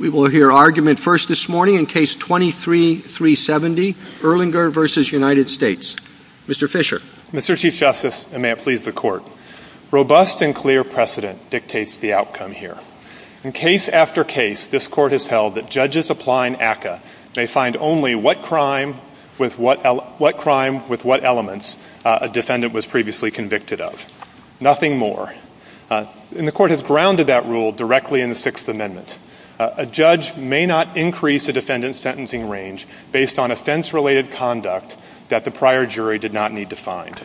Robust and clear precedent dictates the outcome here. In case after case, this Court has held that judges applying ACCA may find only what crime with what elements a defendant was previously convicted of, nothing more. And the Court has grounded that rule directly in the Sixth Amendment. A judge may not increase a defendant's sentencing range based on offense-related conduct that the prior jury did not need to find.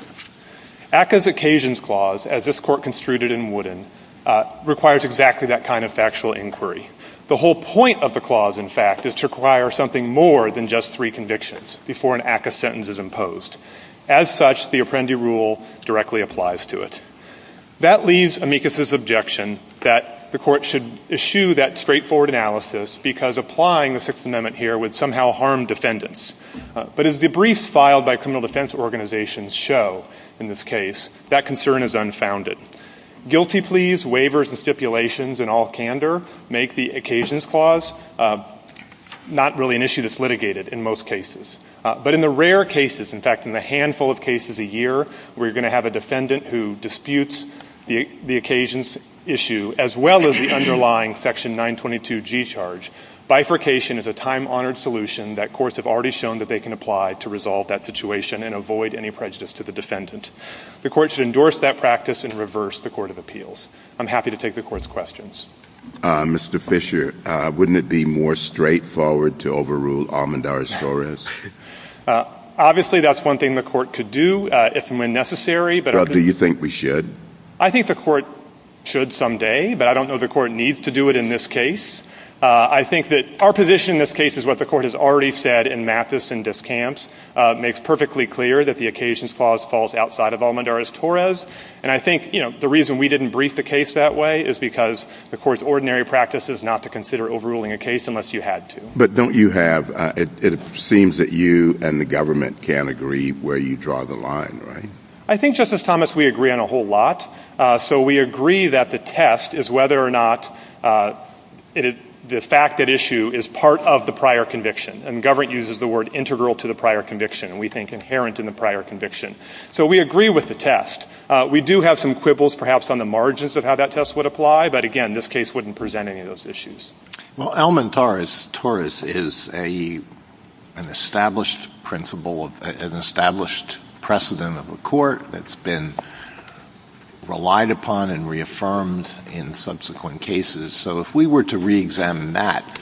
ACCA's Occasions Clause, as this Court construed it in Wooden, requires exactly that kind of factual inquiry. The whole point of the clause, in fact, is to require something more than just three convictions before an ACCA sentence is imposed. As such, the Apprendi Rule directly applies to it. That leaves Amicus's objection that the Court should eschew that straightforward analysis because applying the Sixth Amendment here would somehow harm defendants. But as the briefs filed by criminal defense organizations show in this case, that concern is unfounded. Guilty pleas, waivers, and stipulations in all candor make the Occasions Clause not really an issue that's litigated in most cases. But in the rare cases, in fact, in the handful of cases a year where you're going to have a defendant who disputes the Occasions issue as well as the underlying Section 922G charge, bifurcation is a time-honored solution that courts have already shown that they can apply to resolve that situation and avoid any prejudice to the defendant. The Court should endorse that practice and reverse the Court of Appeals. I'm happy to take the Court's questions. Mr. Fisher, wouldn't it be more straightforward to overrule Almendar's forest? Obviously, that's one thing the Court could do if and when necessary. But do you think we should? I think the Court should someday, but I don't know the Court needs to do it in this case. I think that our position in this case is what the Court has already said in Mathis and Discant, makes perfectly clear that the Occasions Clause falls outside of Almendar's-Torres. And I think the reason we didn't brief the case that way is because the Court's ordinary practice is not to consider overruling a case unless you had to. But don't you have – it seems that you and the government can't agree where you draw the line, right? I think, Justice Thomas, we agree on a whole lot. So we agree that the test is whether or not the fact at issue is part of the prior conviction. And government uses the word integral to the prior conviction. We think inherent in the prior conviction. So we agree with the test. We do have some quibbles, perhaps, on the margins of how that test would apply. But, again, this case wouldn't present any of those issues. Well, Almendar's-Torres is an established precedent of a court that's been relied upon and reaffirmed in subsequent cases. So if we were to reexamine that,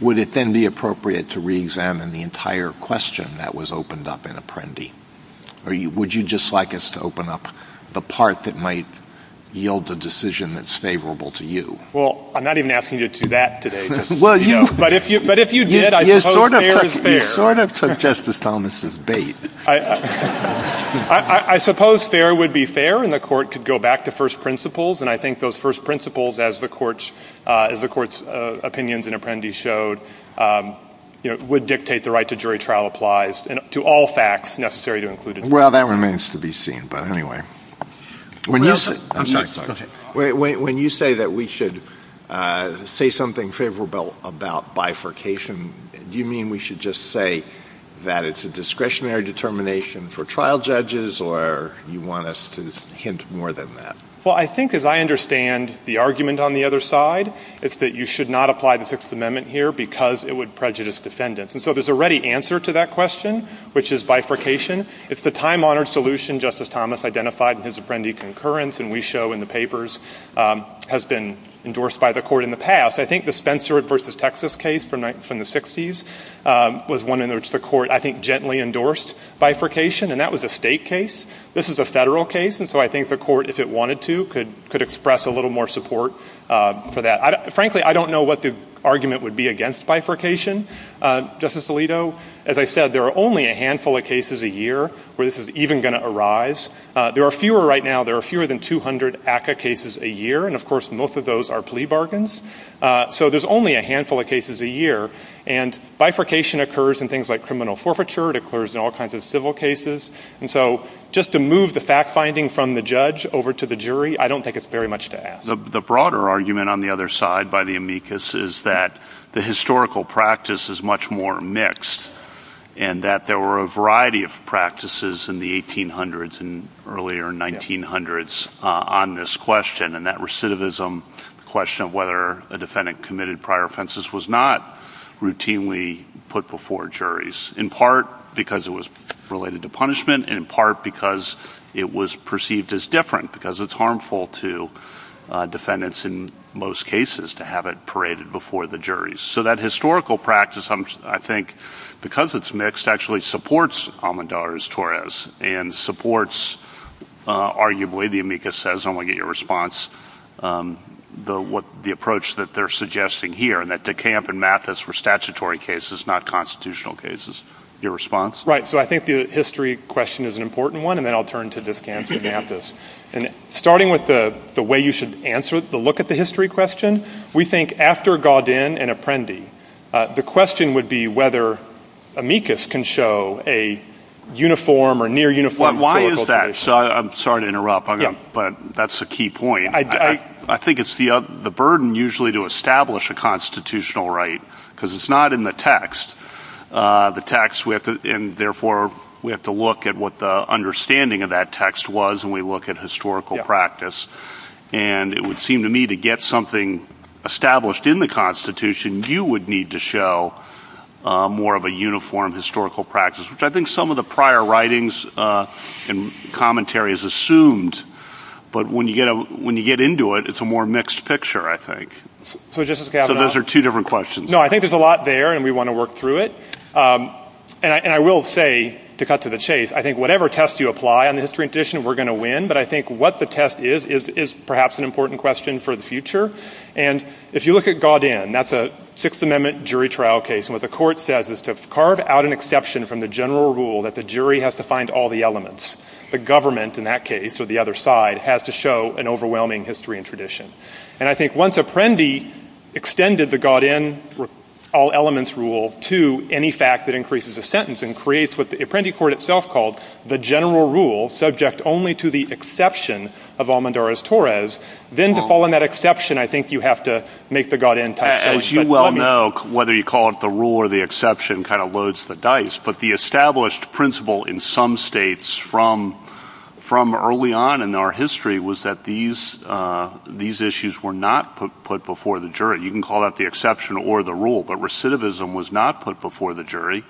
would it then be appropriate to reexamine the entire question that was opened up in Apprendi? Or would you just like us to open up the part that might yield a decision that's favorable to you? Well, I'm not even asking you to do that today. But if you did, I suppose fair is fair. You sort of took Justice Thomas' bait. I suppose fair would be fair, and the court could go back to first principles. And I think those first principles, as the court's opinions in Apprendi showed, would dictate the right to jury trial applies to all facts necessary to include- Well, that remains to be seen. When you say that we should say something favorable about bifurcation, do you mean we should just say that it's a discretionary determination for trial judges, or you want us to hint more than that? Well, I think, as I understand the argument on the other side, it's that you should not apply the Sixth Amendment here because it would prejudice defendants. And so there's a ready answer to that question, which is bifurcation. It's the time-honored solution Justice Thomas identified in his Apprendi concurrence and we show in the papers has been endorsed by the court in the past. I think the Spencer v. Texas case from the 60s was one in which the court, I think, gently endorsed bifurcation, and that was a state case. This is a federal case, and so I think the court, if it wanted to, could express a little more support for that. Frankly, I don't know what the argument would be against bifurcation. Justice Alito, as I said, there are only a handful of cases a year where this is even going to arise. There are fewer right now. There are fewer than 200 ACCA cases a year, and, of course, most of those are plea bargains. So there's only a handful of cases a year, and bifurcation occurs in things like criminal forfeiture. It occurs in all kinds of civil cases. And so just to move the fact-finding from the judge over to the jury, I don't think it's very much to ask. The broader argument on the other side by the amicus is that the historical practice is much more mixed and that there were a variety of practices in the 1800s and earlier 1900s on this question, and that recidivism question of whether a defendant committed prior offenses was not routinely put before juries, in part because it was related to punishment, and in part because it was perceived as different because it's harmful to defendants in most cases to have it paraded before the juries. So that historical practice, I think, because it's mixed, actually supports Almendarez-Torres and supports, arguably, the amicus says, and I want to get your response, the approach that they're suggesting here, and that De Camp and Mathis were statutory cases, not constitutional cases. Your response? Right. So I think the history question is an important one, and then I'll turn to De Camp and Mathis. Starting with the way you should answer it, the look at the history question, we think after Gaudin and Apprendi, the question would be whether amicus can show a uniform or near-uniform critical case. Why is that? I'm sorry to interrupt, but that's a key point. I think it's the burden usually to establish a constitutional right, because it's not in the text. The text, and therefore we have to look at what the understanding of that text was, and we look at historical practice. And it would seem to me to get something established in the Constitution, you would need to show more of a uniform historical practice, which I think some of the prior writings and commentary has assumed. But when you get into it, it's a more mixed picture, I think. So Justice Gaudin. So those are two different questions. No, I think there's a lot there, and we want to work through it. And I will say, to cut to the chase, I think whatever test you apply on the history and tradition, we're going to win. But I think what the test is, is perhaps an important question for the future. And if you look at Gaudin, that's a Sixth Amendment jury trial case, and what the court says is to carve out an exception from the general rule that the jury has to find all the elements. The government, in that case, or the other side, has to show an overwhelming history and tradition. And I think once Apprendi extended the Gaudin all-elements rule to any fact that increases a sentence and creates what the Apprendi court itself called the general rule, subject only to the exception of Almendarez-Torres, then to fall in that exception, I think you have to make the Gaudin type of judgment. As you well know, whether you call it the rule or the exception kind of loads the dice. But the established principle in some states from early on in our history was that these issues were not put before the jury. You can call it the exception or the rule. But recidivism was not put before the jury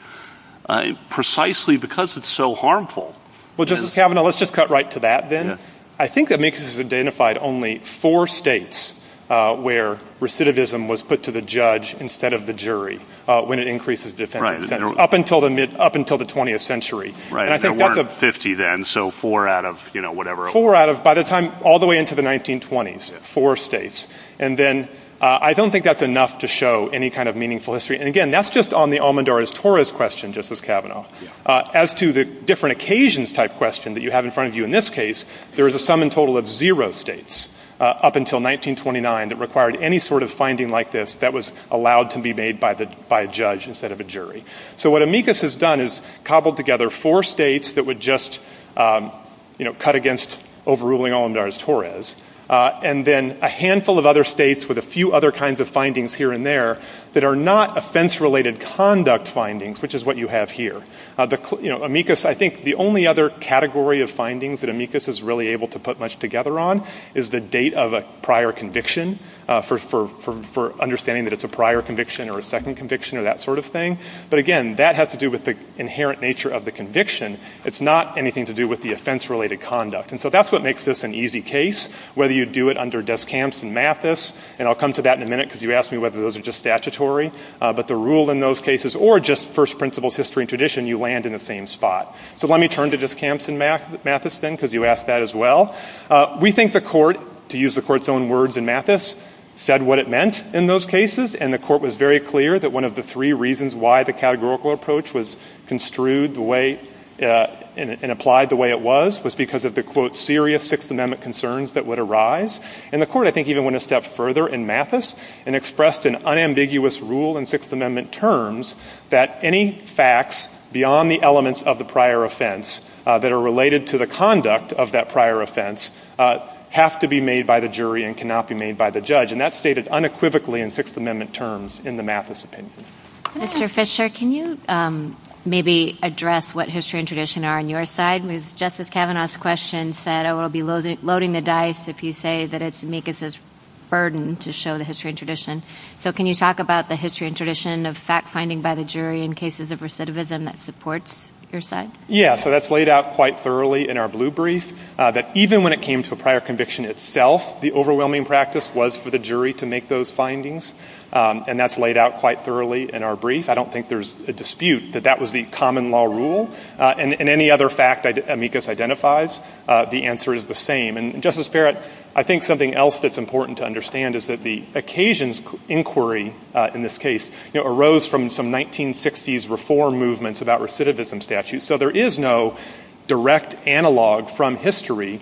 precisely because it's so harmful. Well, Justice Kavanaugh, let's just cut right to that then. I think Amicus has identified only four states where recidivism was put to the judge instead of the jury when it increases the sentence. Up until the 20th century. There weren't 50 then, so four out of whatever. Four out of, by the time, all the way into the 1920s, four states. And then I don't think that's enough to show any kind of meaningful history. And again, that's just on the Almendarez-Torres question, Justice Kavanaugh. As to the different occasions type question that you have in front of you in this case, there is a sum in total of zero states up until 1929 that required any sort of finding like this that was allowed to be made by a judge instead of a jury. So what Amicus has done is cobbled together four states that would just cut against overruling Almendarez-Torres. And then a handful of other states with a few other kinds of findings here and there that are not offense-related conduct findings, which is what you have here. Amicus, I think the only other category of findings that Amicus is really able to put much together on is the date of a prior conviction for understanding that it's a prior conviction or a second conviction or that sort of thing. But again, that has to do with the inherent nature of the conviction. It's not anything to do with the offense-related conduct. And so that's what makes this an easy case, whether you do it under Descamps and Mathis, and I'll come to that in a minute because you asked me whether those are just statutory, but the rule in those cases or just first principles, history, and tradition, you land in the same spot. So let me turn to Descamps and Mathis then because you asked that as well. We think the court, to use the court's own words in Mathis, said what it meant in those cases, and the court was very clear that one of the three reasons why the categorical approach was construed the way and applied the way it was was because of the, quote, serious Sixth Amendment concerns that would arise. And the court, I think, even went a step further in Mathis and expressed an unambiguous rule in Sixth Amendment terms that any facts beyond the elements of the prior offense that are related to the conduct of that prior offense have to be made by the jury and cannot be made by the judge. And that's stated unequivocally in Sixth Amendment terms in the Mathis opinion. Mr. Fisher, can you maybe address what history and tradition are on your side? As Justice Kavanaugh's question said, I will be loading the dice if you say that it's amicus's burden to show the history and tradition. So can you talk about the history and tradition of fact-finding by the jury in cases of recidivism that supports your side? Yeah, so that's laid out quite thoroughly in our blue brief, that even when it came to the prior conviction itself, the overwhelming practice was for the jury to make those findings. And that's laid out quite thoroughly in our brief. I don't think there's a dispute that that was the common law rule. And any other fact that amicus identifies, the answer is the same. And, Justice Barrett, I think something else that's important to understand is that the occasions inquiry in this case arose from some 1960s reform movements about recidivism statutes. So there is no direct analog from history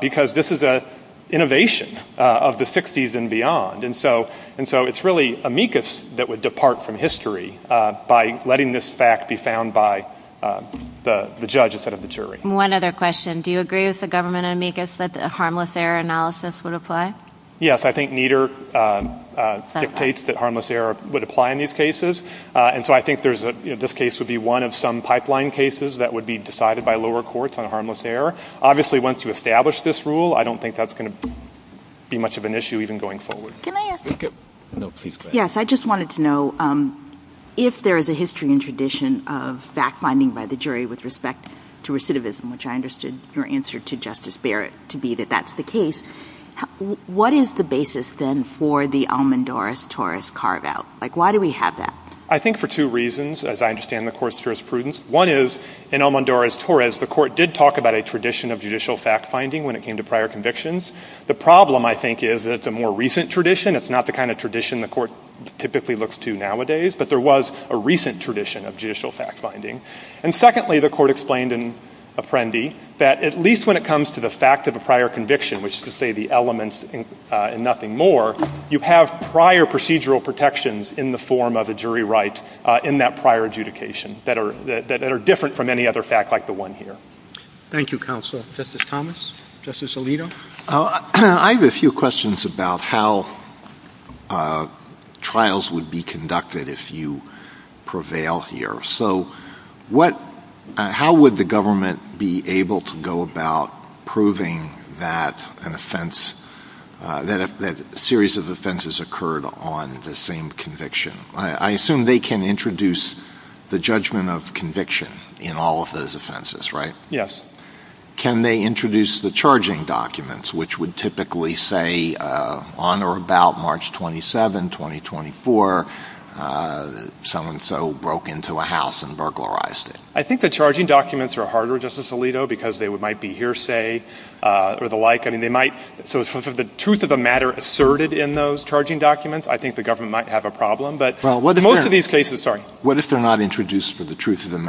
because this is an innovation of the 60s and beyond. And so it's really amicus that would depart from history by letting this fact be found by the judge instead of the jury. One other question. Do you agree with the government amicus that the harmless error analysis would apply? Yes, I think neither dictates that harmless error would apply in these cases. And so I think this case would be one of some pipeline cases that would be decided by lower courts on harmless error. Obviously, once you establish this rule, I don't think that's going to be much of an issue even going forward. Can I ask a question? No, please go ahead. Yes, I just wanted to know if there is a history and tradition of fact-finding by the jury with respect to recidivism, which I understood your answer to Justice Barrett to be that that's the case, what is the basis, then, for the Almendoris-Torres carve-out? Like, why do we have that? I think for two reasons, as I understand the Court's jurisprudence. One is, in Almendoris-Torres, the Court did talk about a tradition of judicial fact-finding when it came to prior convictions. The problem, I think, is that it's a more recent tradition. It's not the kind of tradition the Court typically looks to nowadays, but there was a recent tradition of judicial fact-finding. And secondly, the Court explained in Apprendi that at least when it comes to the fact of a prior conviction, which is to say the elements and nothing more, you have prior procedural protections in the form of a jury right in that prior adjudication that are different from any other fact like the one here. Thank you, Counsel. Justice Thomas? Justice Alito? I have a few questions about how trials would be conducted if you prevail here. So how would the government be able to go about proving that a series of offenses occurred on the same conviction? I assume they can introduce the judgment of conviction in all of those offenses, right? Yes. Can they introduce the charging documents, which would typically say on or about March 27, 2024, so-and-so broke into a house and burglarized it? I think the charging documents are harder, Justice Alito, because they might be hearsay or the like. I mean, they might – so if the truth of the matter asserted in those charging documents, I think the government might have a problem. But in most of these cases – sorry. But they are introduced for the truth of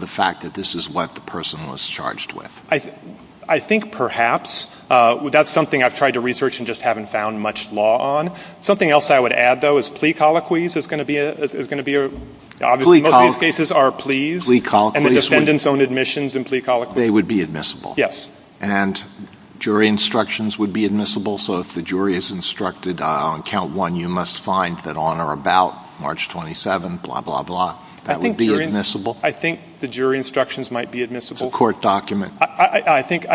the fact that this is what the person was charged with. I think perhaps. That's something I've tried to research and just haven't found much law on. Something else I would add, though, is plea colloquies is going to be – obviously, most of these cases are pleas. Plea colloquies. And the defendants' own admissions in plea colloquies. They would be admissible. Yes. And jury instructions would be admissible. So if the jury is instructed on count one, you must find that on or about March 27, blah, blah, blah, that would be admissible? I think the jury instructions might be admissible. A court document? I think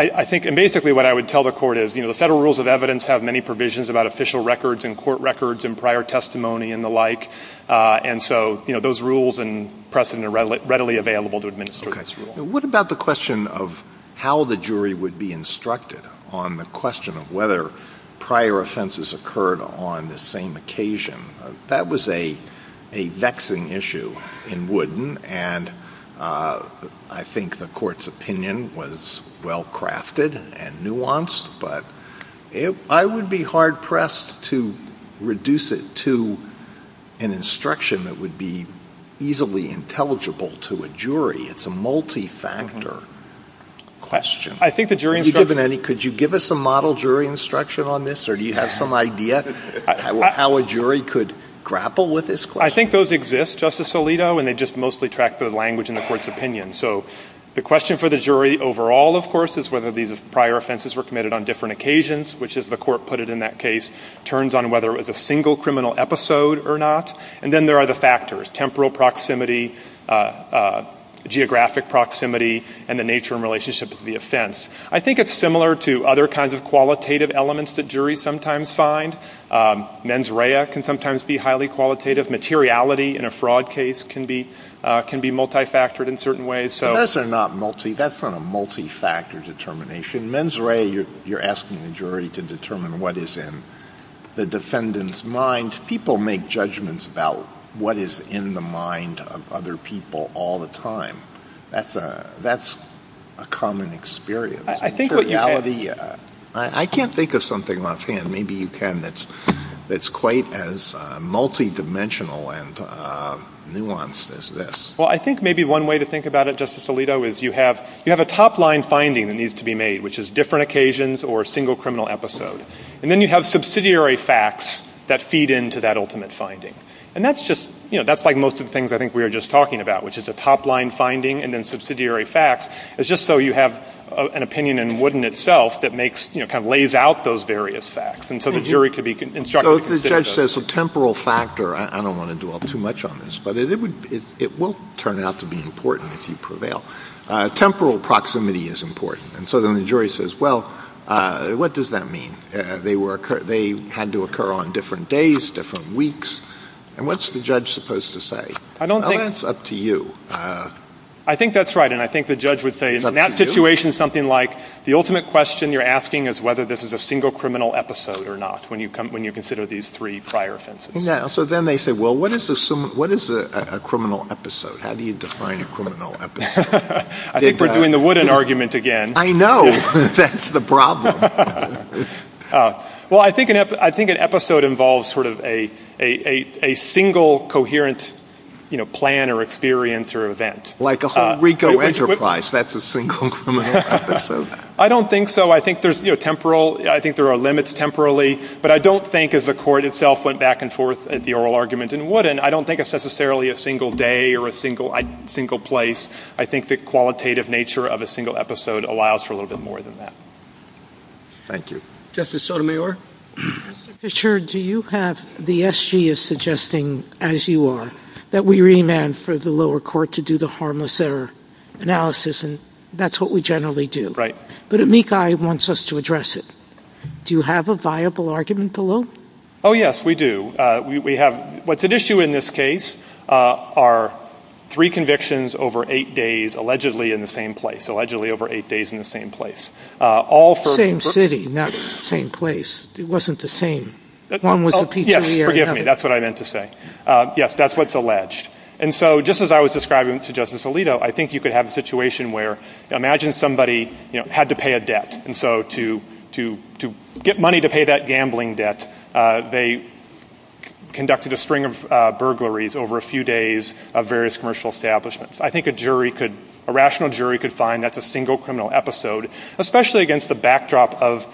– and basically what I would tell the court is, you know, the federal rules of evidence have many provisions about official records and court records and prior testimony and the like. And so, you know, those rules and precedent are readily available to administrators. What about the question of how the jury would be instructed on the question of whether prior offenses occurred on the same occasion? That was a vexing issue in Wooden, and I think the court's opinion was well-crafted and nuanced. But I would be hard-pressed to reduce it to an instruction that would be easily intelligible to a jury. It's a multi-factor question. I think the jury instruction – Could you give us a model jury instruction on this, or do you have some idea how a jury could grapple with this question? I think those exist, Justice Alito, and they just mostly track the language in the court's opinion. So the question for the jury overall, of course, is whether these prior offenses were committed on different occasions, which, as the court put it in that case, turns on whether it was a single criminal episode or not. And then there are the factors – temporal proximity, geographic proximity, and the nature and relationship of the offense. I think it's similar to other kinds of qualitative elements that juries sometimes find. Mens rea can sometimes be highly qualitative. Materiality in a fraud case can be multi-factored in certain ways. That's not a multi-factor determination. Mens rea, you're asking the jury to determine what is in the defendant's mind. People make judgments about what is in the mind of other people all the time. That's a common experience. I can't think of something, Montana, maybe you can, that's quite as multi-dimensional and nuanced as this. Well, I think maybe one way to think about it, Justice Alito, is you have a top-line finding that needs to be made, which is different occasions or a single criminal episode. And then you have subsidiary facts that feed into that ultimate finding. And that's like most of the things I think we were just talking about, which is a top-line finding and then subsidiary facts, is just so you have an opinion in Wooden itself that kind of lays out those various facts. And so the jury could be instructed to consider those. So if the judge says a temporal factor, I don't want to dwell too much on this, but it will turn out to be important if you prevail. Temporal proximity is important. And so then the jury says, well, what does that mean? They had to occur on different days, different weeks. And what's the judge supposed to say? Well, that's up to you. I think that's right. And I think the judge would say, in that situation, something like the ultimate question you're asking is whether this is a single criminal episode or not, when you consider these three prior offenses. Yeah, so then they say, well, what is a criminal episode? How do you define a criminal episode? I think we're doing the Wooden argument again. I know. That's the problem. Well, I think an episode involves sort of a single coherent plan or experience or event. Like the whole RICO enterprise. That's a single criminal episode. I don't think so. I think there are limits temporally. But I don't think, as the court itself went back and forth at the oral argument in Wooden, I don't think it's necessarily a single day or a single place. I think the qualitative nature of a single episode allows for a little bit more than that. Thank you. Justice Sotomayor? Mr. Fisher, do you have the SG as suggesting, as you are, that we remand for the lower court to do the harmless error analysis, and that's what we generally do. Right. But amicai wants us to address it. Do you have a viable argument below? Oh, yes, we do. What's at issue in this case are three convictions over eight days allegedly in the same place, allegedly over eight days in the same place. Same city, not the same place. It wasn't the same. Yes, forgive me. That's what I meant to say. Yes, that's what's alleged. And so just as I was describing to Justice Alito, I think you could have a situation where imagine somebody had to pay a debt. And so to get money to pay that gambling debt, they conducted a string of burglaries over a few days of various commercial establishments. I think a rational jury could find that's a single criminal episode, especially against the backdrop of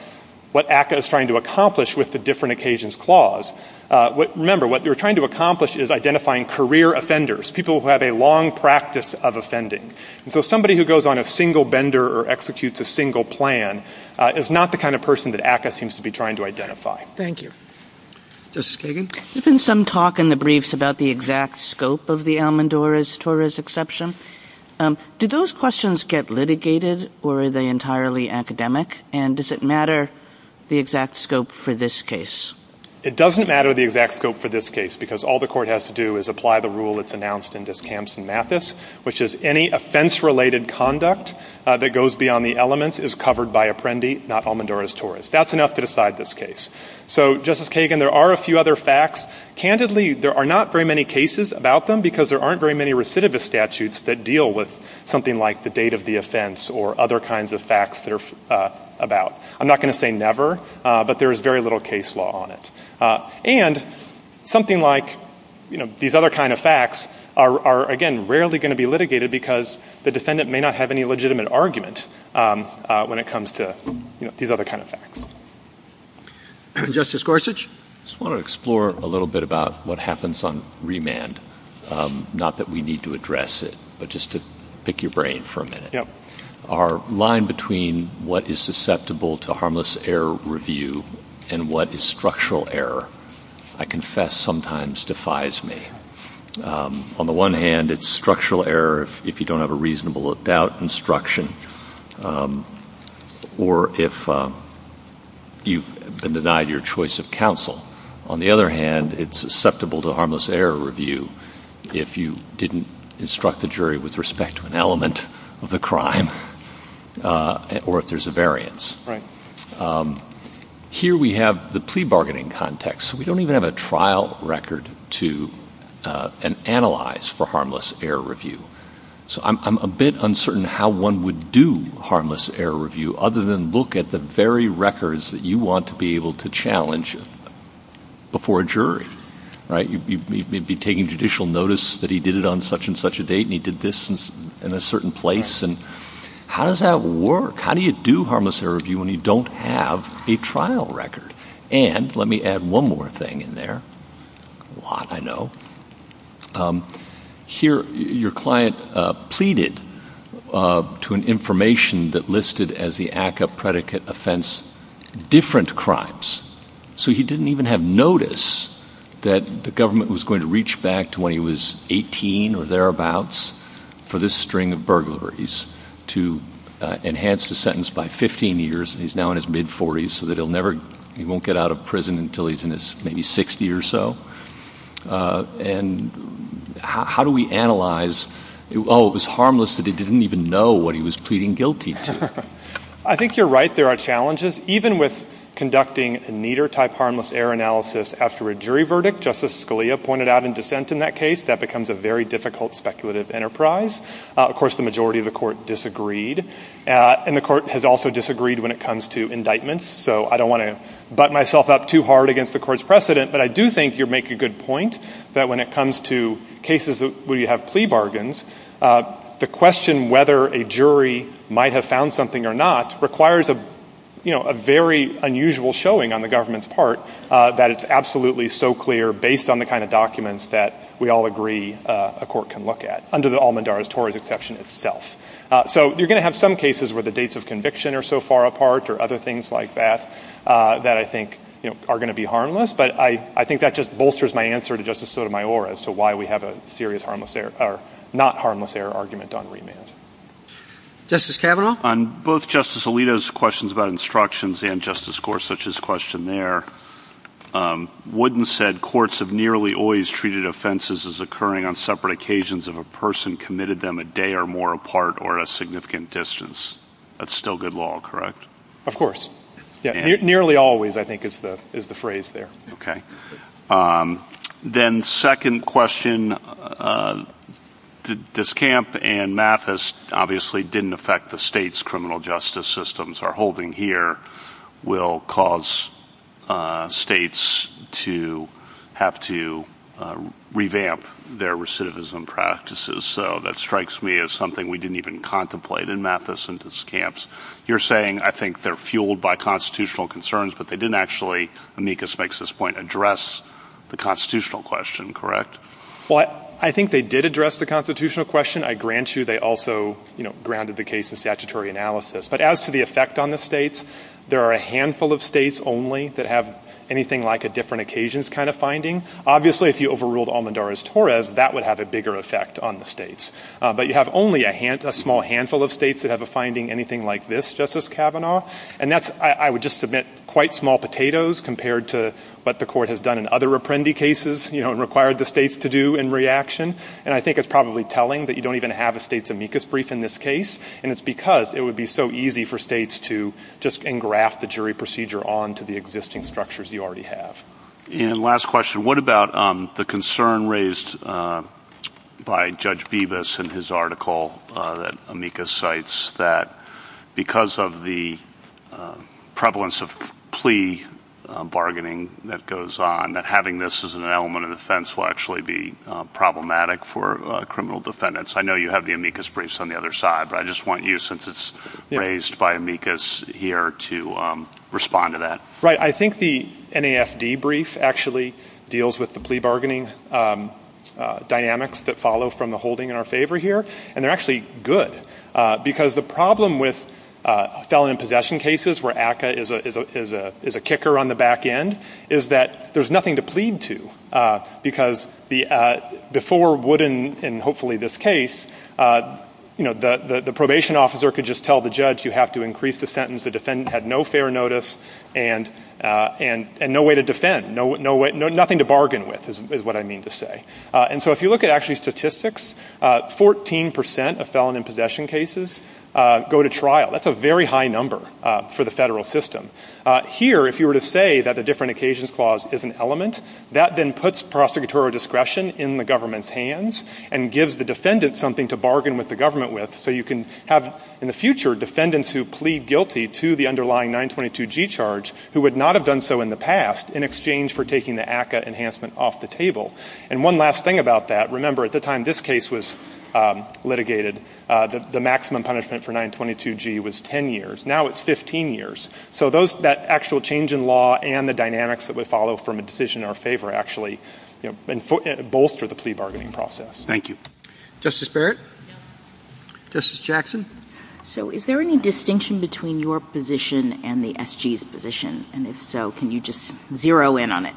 what ACCA is trying to accomplish with the different occasions clause. Remember, what they were trying to accomplish is identifying career offenders, people who have a long practice of offending. And so somebody who goes on a single bender or executes a single plan is not the kind of person that ACCA seems to be trying to identify. Thank you. Justice Kagan? There's been some talk in the briefs about the exact scope of the Almonduras-Torres exception. Do those questions get litigated or are they entirely academic? And does it matter the exact scope for this case? It doesn't matter the exact scope for this case because all the court has to do is apply the rule that's announced in this which is any offense-related conduct that goes beyond the elements is covered by Apprendi, not Almonduras-Torres. That's enough to decide this case. So, Justice Kagan, there are a few other facts. Candidly, there are not very many cases about them because there aren't very many recidivist statutes that deal with something like the date of the offense or other kinds of facts that are about. I'm not going to say never, but there is very little case law on it. And something like these other kinds of facts are, again, rarely going to be litigated because the defendant may not have any legitimate argument when it comes to these other kinds of facts. Justice Gorsuch, I just want to explore a little bit about what happens on remand. Not that we need to address it, but just to pick your brain for a minute. Our line between what is susceptible to harmless error review and what is structural error, I confess, sometimes defies me. On the one hand, it's structural error if you don't have a reasonable about instruction or if you've been denied your choice of counsel. On the other hand, it's susceptible to harmless error review if you didn't instruct the jury with respect to an element of the crime or if there's a variance. Here we have the plea bargaining context. We don't even have a trial record to analyze for harmless error review. So I'm a bit uncertain how one would do harmless error review other than look at the very records that you want to be able to challenge before a jury. You'd be taking judicial notice that he did it on such and such a date and he did this in a certain place. How does that work? How do you do harmless error review when you don't have a trial record? And let me add one more thing in there. A lot, I know. Here, your client pleaded to an information that listed as the ACCA predicate offense different crimes. So he didn't even have notice that the government was going to reach back to when he was 18 or thereabouts for this string of burglaries to enhance the sentence by 15 years. He's now in his mid-40s so that he won't get out of prison until he's in his maybe 60 or so. And how do we analyze, oh, it was harmless that he didn't even know what he was pleading guilty to? I think you're right. There are challenges. Even with conducting a neater type harmless error analysis after a jury verdict, Justice Scalia pointed out in dissent in that case, that becomes a very difficult speculative enterprise. Of course, the majority of the court disagreed. And the court has also disagreed when it comes to indictments. So I don't want to butt myself up too hard against the court's precedent, but I do think you make a good point that when it comes to cases where you have plea bargains, the question whether a jury might have found something or not, requires a very unusual showing on the government's part that it's absolutely so clear based on the kind of documents that we all agree a court can look at, under the Almendarez-Torres exception itself. So you're going to have some cases where the dates of conviction are so far apart or other things like that that I think are going to be harmless, but I think that just bolsters my answer to Justice Sotomayor as to why we have a not harmless error argument on remand. Justice Kavanaugh? On both Justice Alito's questions about instructions and Justice Gorsuch's question there, Wooden said courts have nearly always treated offenses as occurring on separate occasions if a person committed them a day or more apart or a significant distance. That's still good law, correct? Of course. Nearly always, I think, is the phrase there. Okay. Then second question, Discamp and Mathis obviously didn't affect the states' criminal justice systems. Our holding here will cause states to have to revamp their recidivism practices, so that strikes me as something we didn't even contemplate in Mathis and Discamp's. You're saying I think they're fueled by constitutional concerns, but they didn't actually, Amicus makes this point, address the constitutional question, correct? Well, I think they did address the constitutional question. I grant you they also grounded the case in statutory analysis. But as to the effect on the states, there are a handful of states only that have anything like a different occasions kind of finding. Obviously, if you overruled Almendarez-Torres, that would have a bigger effect on the states. But you have only a small handful of states that have a finding anything like this, Justice Kavanaugh. And that's, I would just submit, quite small potatoes compared to what the court has done in other Apprendi cases, you know, and required the states to do in reaction. And I think it's probably telling that you don't even have a states' Amicus brief in this case, and it's because it would be so easy for states to just engraft the jury procedure onto the existing structures you already have. And last question, what about the concern raised by Judge Bibas in his article that Amicus cites, that because of the prevalence of plea bargaining that goes on, that having this as an element of defense will actually be problematic for criminal defendants? I know you have the Amicus briefs on the other side, but I just want you, since it's raised by Amicus here, to respond to that. Right. I think the NAFD brief actually deals with the plea bargaining dynamics that follow from the holding in our favor here. And they're actually good, because the problem with felon in possession cases, where ACCA is a kicker on the back end, is that there's nothing to plead to, because before Wood in hopefully this case, you know, the probation officer could just tell the judge, you have to increase the sentence, the defendant had no fair notice, and no way to defend, nothing to bargain with is what I mean to say. And so if you look at actually statistics, 14 percent of felon in possession cases go to trial. That's a very high number for the federal system. Here, if you were to say that the different occasions clause is an element, that then puts prosecutorial discretion in the government's hands and gives the defendant something to bargain with the government with, so you can have in the future defendants who plead guilty to the underlying 922G charge who would not have done so in the past in exchange for taking the ACCA enhancement off the table. And one last thing about that, remember at the time this case was litigated, the maximum punishment for 922G was 10 years. Now it's 15 years. So that actual change in law and the dynamics that would follow from a decision in our favor actually, you know, bolster the plea bargaining process. Thank you. Justice Barrett? Justice Jackson? So is there any distinction between your position and the SG's position? And if so, can you just zero in on it?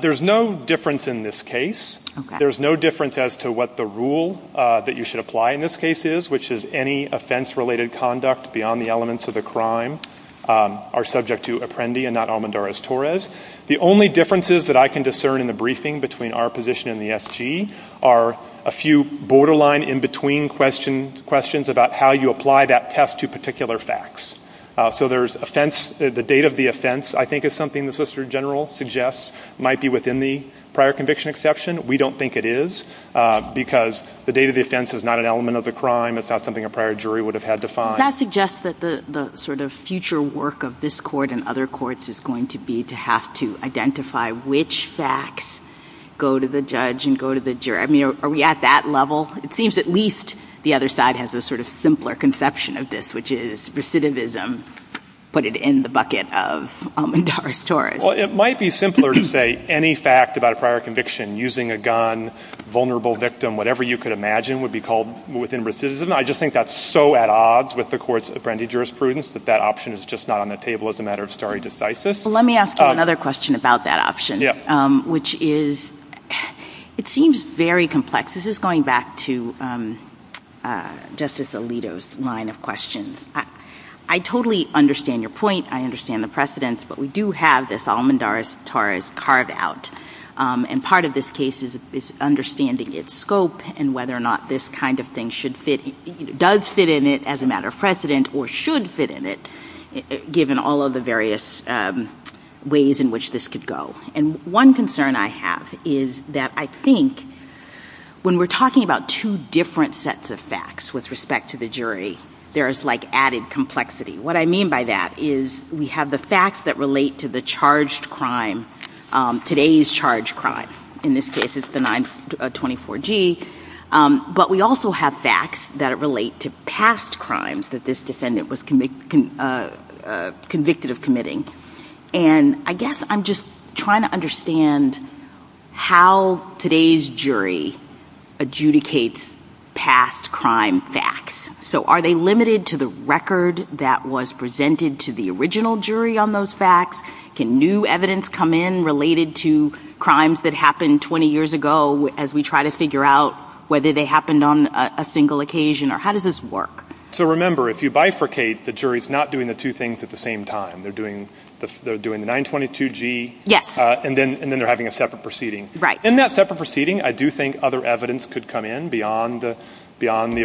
There's no difference in this case. There's no difference as to what the rule that you should apply in this case is, which is any offense-related conduct beyond the elements of the crime are subject to Apprendi and not Almendarez-Torres. The only differences that I can discern in the briefing between our position and the SG are a few borderline in-between questions about how you apply that test to particular facts. So there's offense, the date of the offense I think is something the Solicitor General suggests might be within the prior conviction exception. We don't think it is because the date of the offense is not an element of the crime. It's not something a prior jury would have had to find. Does that suggest that the sort of future work of this court and other courts is going to be to have to identify which facts go to the judge and go to the jury? I mean, are we at that level? It seems at least the other side has a sort of simpler conception of this, which is recidivism, put it in the bucket of Almendarez-Torres. Well, it might be simpler to say any fact about a prior conviction, using a gun, vulnerable victim, whatever you could imagine would be called within recidivism. I just think that's so at odds with the court's Apprendi jurisprudence that that option is just not on the table as a matter of stare decisis. Let me ask you another question about that option, which is it seems very complex. This is going back to Justice Alito's line of questions. I totally understand your point. I understand the precedents. But we do have this Almendarez-Torres carved out. And part of this case is understanding its scope and whether or not this kind of thing should fit, does fit in it as a matter of precedent or should fit in it, given all of the various ways in which this could go. And one concern I have is that I think when we're talking about two different sets of facts with respect to the jury, there is like added complexity. What I mean by that is we have the facts that relate to the charged crime, today's charged crime. In this case, it's the 924G. But we also have facts that relate to past crimes that this defendant was convicted of committing. And I guess I'm just trying to understand how today's jury adjudicates past crime facts. So are they limited to the record that was presented to the original jury on those facts? Can new evidence come in related to crimes that happened 20 years ago as we try to figure out whether they happened on a single occasion? Or how does this work? So remember, if you bifurcate, the jury is not doing the two things at the same time. They're doing the 922G and then they're having a separate proceeding. In that separate proceeding, I do think other evidence could come in beyond the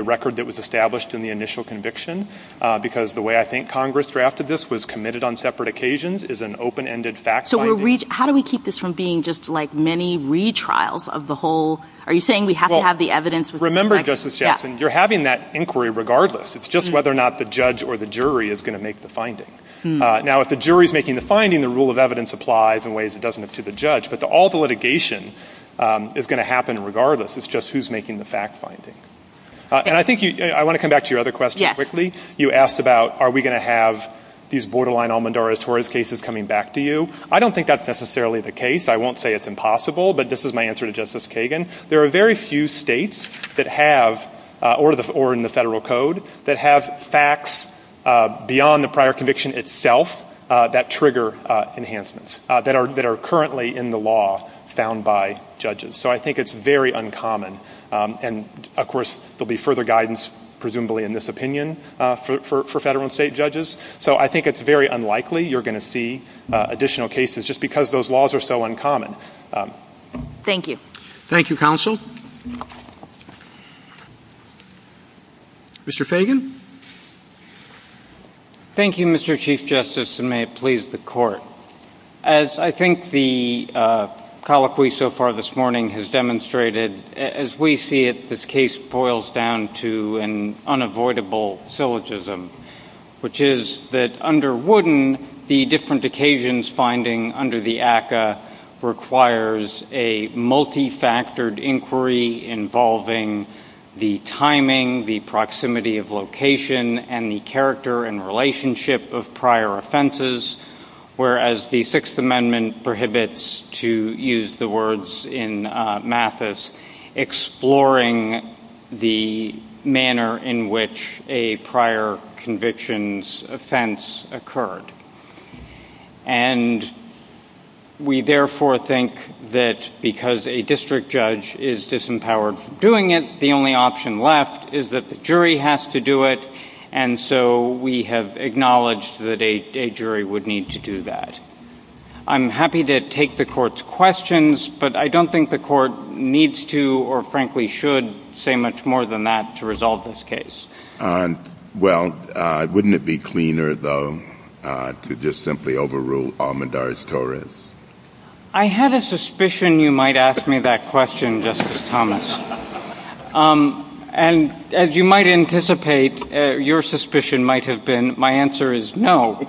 record that was established in the initial conviction. Because the way I think Congress drafted this was committed on separate occasions is an open-ended fact finding. So how do we keep this from being just like many retrials of the whole, are you saying we have to have the evidence? Remember, Justice Jackson, you're having that inquiry regardless. It's just whether or not the judge or the jury is going to make the finding. Now, if the jury is making the finding, the rule of evidence applies in ways it doesn't to the judge. But all the litigation is going to happen regardless. It's just who's making the fact finding. And I think you – I want to come back to your other question quickly. You asked about are we going to have these borderline Almendora-Torres cases coming back to you. I don't think that's necessarily the case. I won't say it's impossible, but this is my answer to Justice Kagan. There are very few states that have, or in the Federal Code, that have facts beyond the prior conviction itself that trigger enhancements, that are currently in the law found by judges. So I think it's very uncommon. And, of course, there will be further guidance, presumably in this opinion, for federal and state judges. So I think it's very unlikely you're going to see additional cases just because those laws are so uncommon. Thank you. Thank you, counsel. Mr. Fagan. Thank you, Mr. Chief Justice, and may it please the Court. As I think the colloquy so far this morning has demonstrated, as we see it, this case boils down to an unavoidable syllogism, which is that under Wooden, the different occasions finding under the ACCA requires a multifactored inquiry involving the timing, the proximity of location, and the character and relationship of prior offenses, whereas the Sixth Amendment prohibits, to use the words in Mathis, exploring the manner in which a prior conviction's offense occurred. And we therefore think that because a district judge is disempowered from doing it, the only option left is that the jury has to do it, and so we have acknowledged that a jury would need to do that. I'm happy to take the Court's questions, but I don't think the Court needs to, or frankly should, say much more than that to resolve this case. Well, wouldn't it be cleaner, though, to just simply overrule Almendarez-Torres? I had a suspicion you might ask me that question, Justice Thomas. And as you might anticipate, your suspicion might have been my answer is no.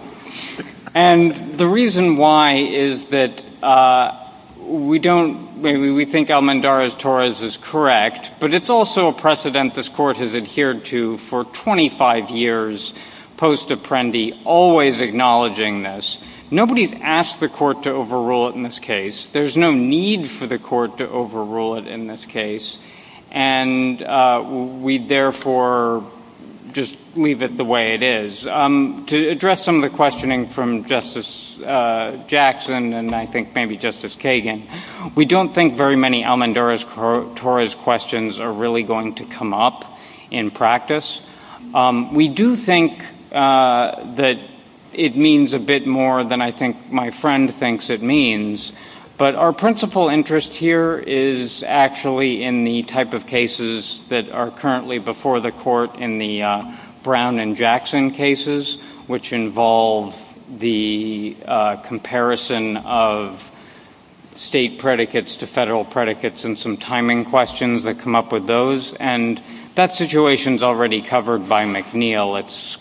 And the reason why is that we don't – maybe we think Almendarez-Torres is correct, but it's also a precedent this Court has adhered to for 25 years post-apprendi, always acknowledging this. Nobody's asked the Court to overrule it in this case. There's no need for the Court to overrule it in this case, and we therefore just leave it the way it is. To address some of the questioning from Justice Jackson and I think maybe Justice Kagan, we don't think very many Almendarez-Torres questions are really going to come up in practice. We do think that it means a bit more than I think my friend thinks it means, but our principal interest here is actually in the type of cases that are currently before the Court in the Brown and Jackson cases, which involve the comparison of state predicates to federal predicates and some timing questions that come up with those. And that situation's already covered by McNeil. It's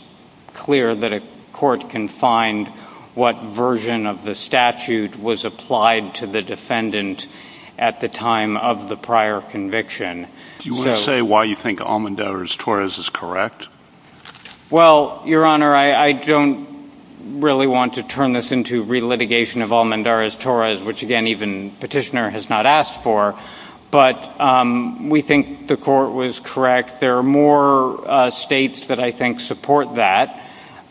clear that a Court can find what version of the statute was applied to the defendant at the time of the prior conviction. Do you want to say why you think Almendarez-Torres is correct? Well, Your Honor, I don't really want to turn this into relitigation of Almendarez-Torres, which again even Petitioner has not asked for, but we think the Court was correct. There are more states that I think support that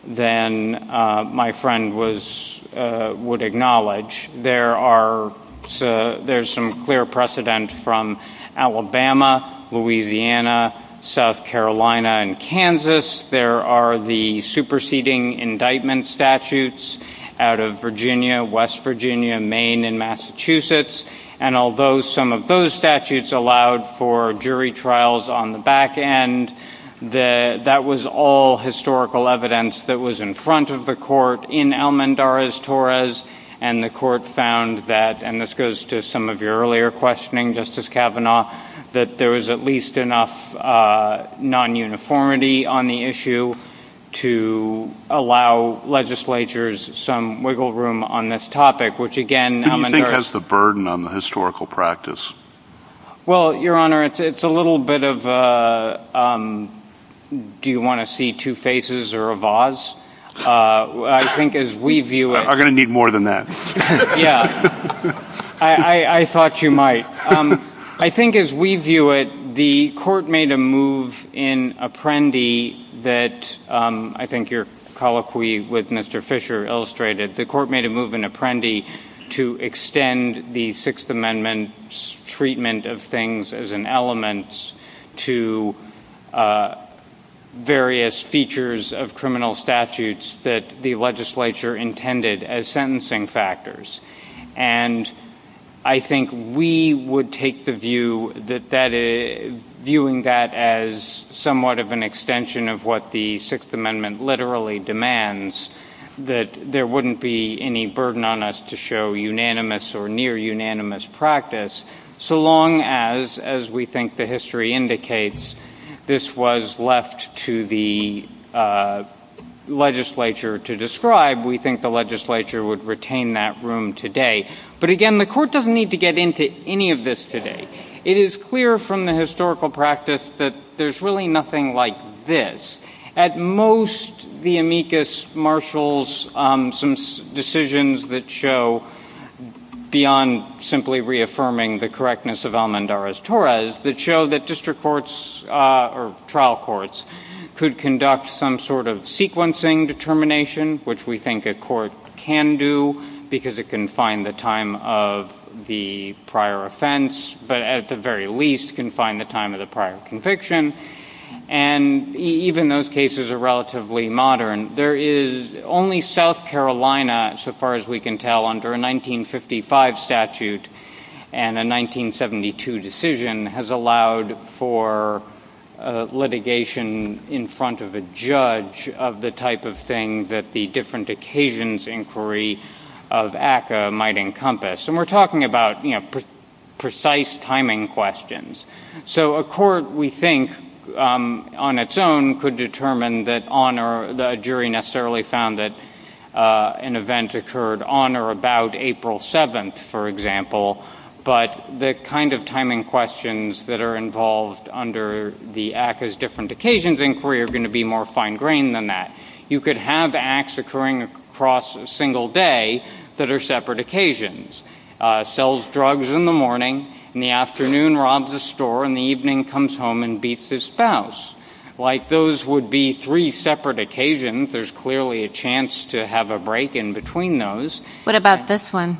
than my friend would acknowledge. There's some clear precedent from Alabama, Louisiana, South Carolina, and Kansas. There are the superseding indictment statutes out of Virginia, West Virginia, Maine, and Massachusetts. And although some of those statutes allowed for jury trials on the back end, that was all historical evidence that was in front of the Court in Almendarez-Torres, and the Court found that, and this goes to some of your earlier questioning, Justice Kavanaugh, that there was at least enough non-uniformity on the issue to allow legislatures some wiggle room on this topic, which again Almendarez- Who do you think has the burden on the historical practice? Well, Your Honor, it's a little bit of a, do you want to see two faces or a vase? I think as we view it- We're going to need more than that. Yeah, I thought you might. I think as we view it, the Court made a move in Apprendi that, I think you're colloquy with Mr. Fisher illustrated, the Court made a move in Apprendi to extend the Sixth Amendment's treatment of things as an element to various features of criminal statutes that the legislature intended as sentencing factors. And I think we would take the view, viewing that as somewhat of an extension of what the Sixth Amendment literally demands, that there wouldn't be any burden on us to show unanimous or near-unanimous practice, so long as, as we think the history indicates, this was left to the legislature to describe, we think the legislature would retain that room today. But again, the Court doesn't need to get into any of this today. It is clear from the historical practice that there's really nothing like this. At most, the amicus marshals some decisions that show, beyond simply reaffirming the correctness of Almendarez-Torres, that show that district courts or trial courts could conduct some sort of sequencing determination, which we think a court can do because it can find the time of the prior offense, but at the very least can find the time of the prior conviction. And even those cases are relatively modern. Only South Carolina, so far as we can tell, under a 1955 statute and a 1972 decision, has allowed for litigation in front of a judge of the type of thing that the different occasions inquiry of ACCA might encompass. And we're talking about precise timing questions. So a court, we think, on its own, could determine that on or that a jury necessarily found that an event occurred on or about April 7th, for example. But the kind of timing questions that are involved under the ACCA's different occasions inquiry are going to be more fine-grained than that. You could have acts occurring across a single day that are separate occasions. Sells drugs in the morning, in the afternoon robs a store, in the evening comes home and beats his spouse. Like those would be three separate occasions, there's clearly a chance to have a break in between those. What about this one?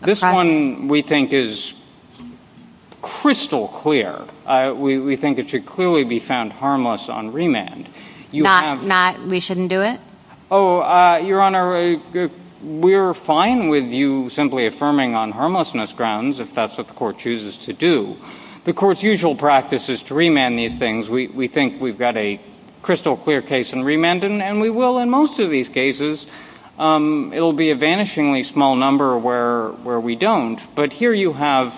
This one, we think, is crystal clear. We think it should clearly be found harmless on remand. Not that we shouldn't do it? Your Honor, we're fine with you simply affirming on harmlessness grounds, if that's what the court chooses to do. The court's usual practice is to remand these things. We think we've got a crystal clear case in remand, and we will in most of these cases. It'll be a vanishingly small number where we don't. But here you have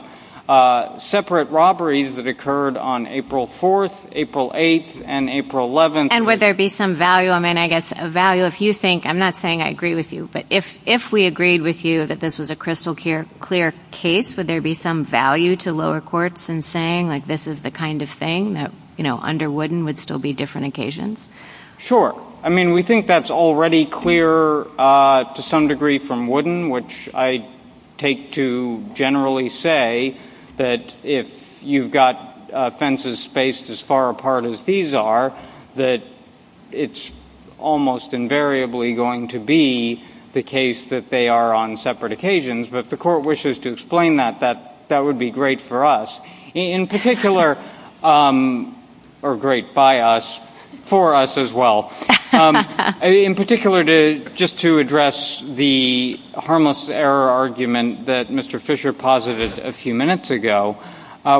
separate robberies that occurred on April 4th, April 8th, and April 11th. And would there be some value, if you think, I'm not saying I agree with you, but if we agreed with you that this was a crystal clear case, would there be some value to lower courts in saying this is the kind of thing that under Wooden would still be different occasions? Sure. I mean, we think that's already clear to some degree from Wooden, which I take to generally say that if you've got offenses spaced as far apart as these are, that it's almost invariably going to be the case that they are on separate occasions. But if the court wishes to explain that, that would be great for us. In particular, or great by us, for us as well. In particular, just to address the harmless error argument that Mr. Fisher posited a few minutes ago,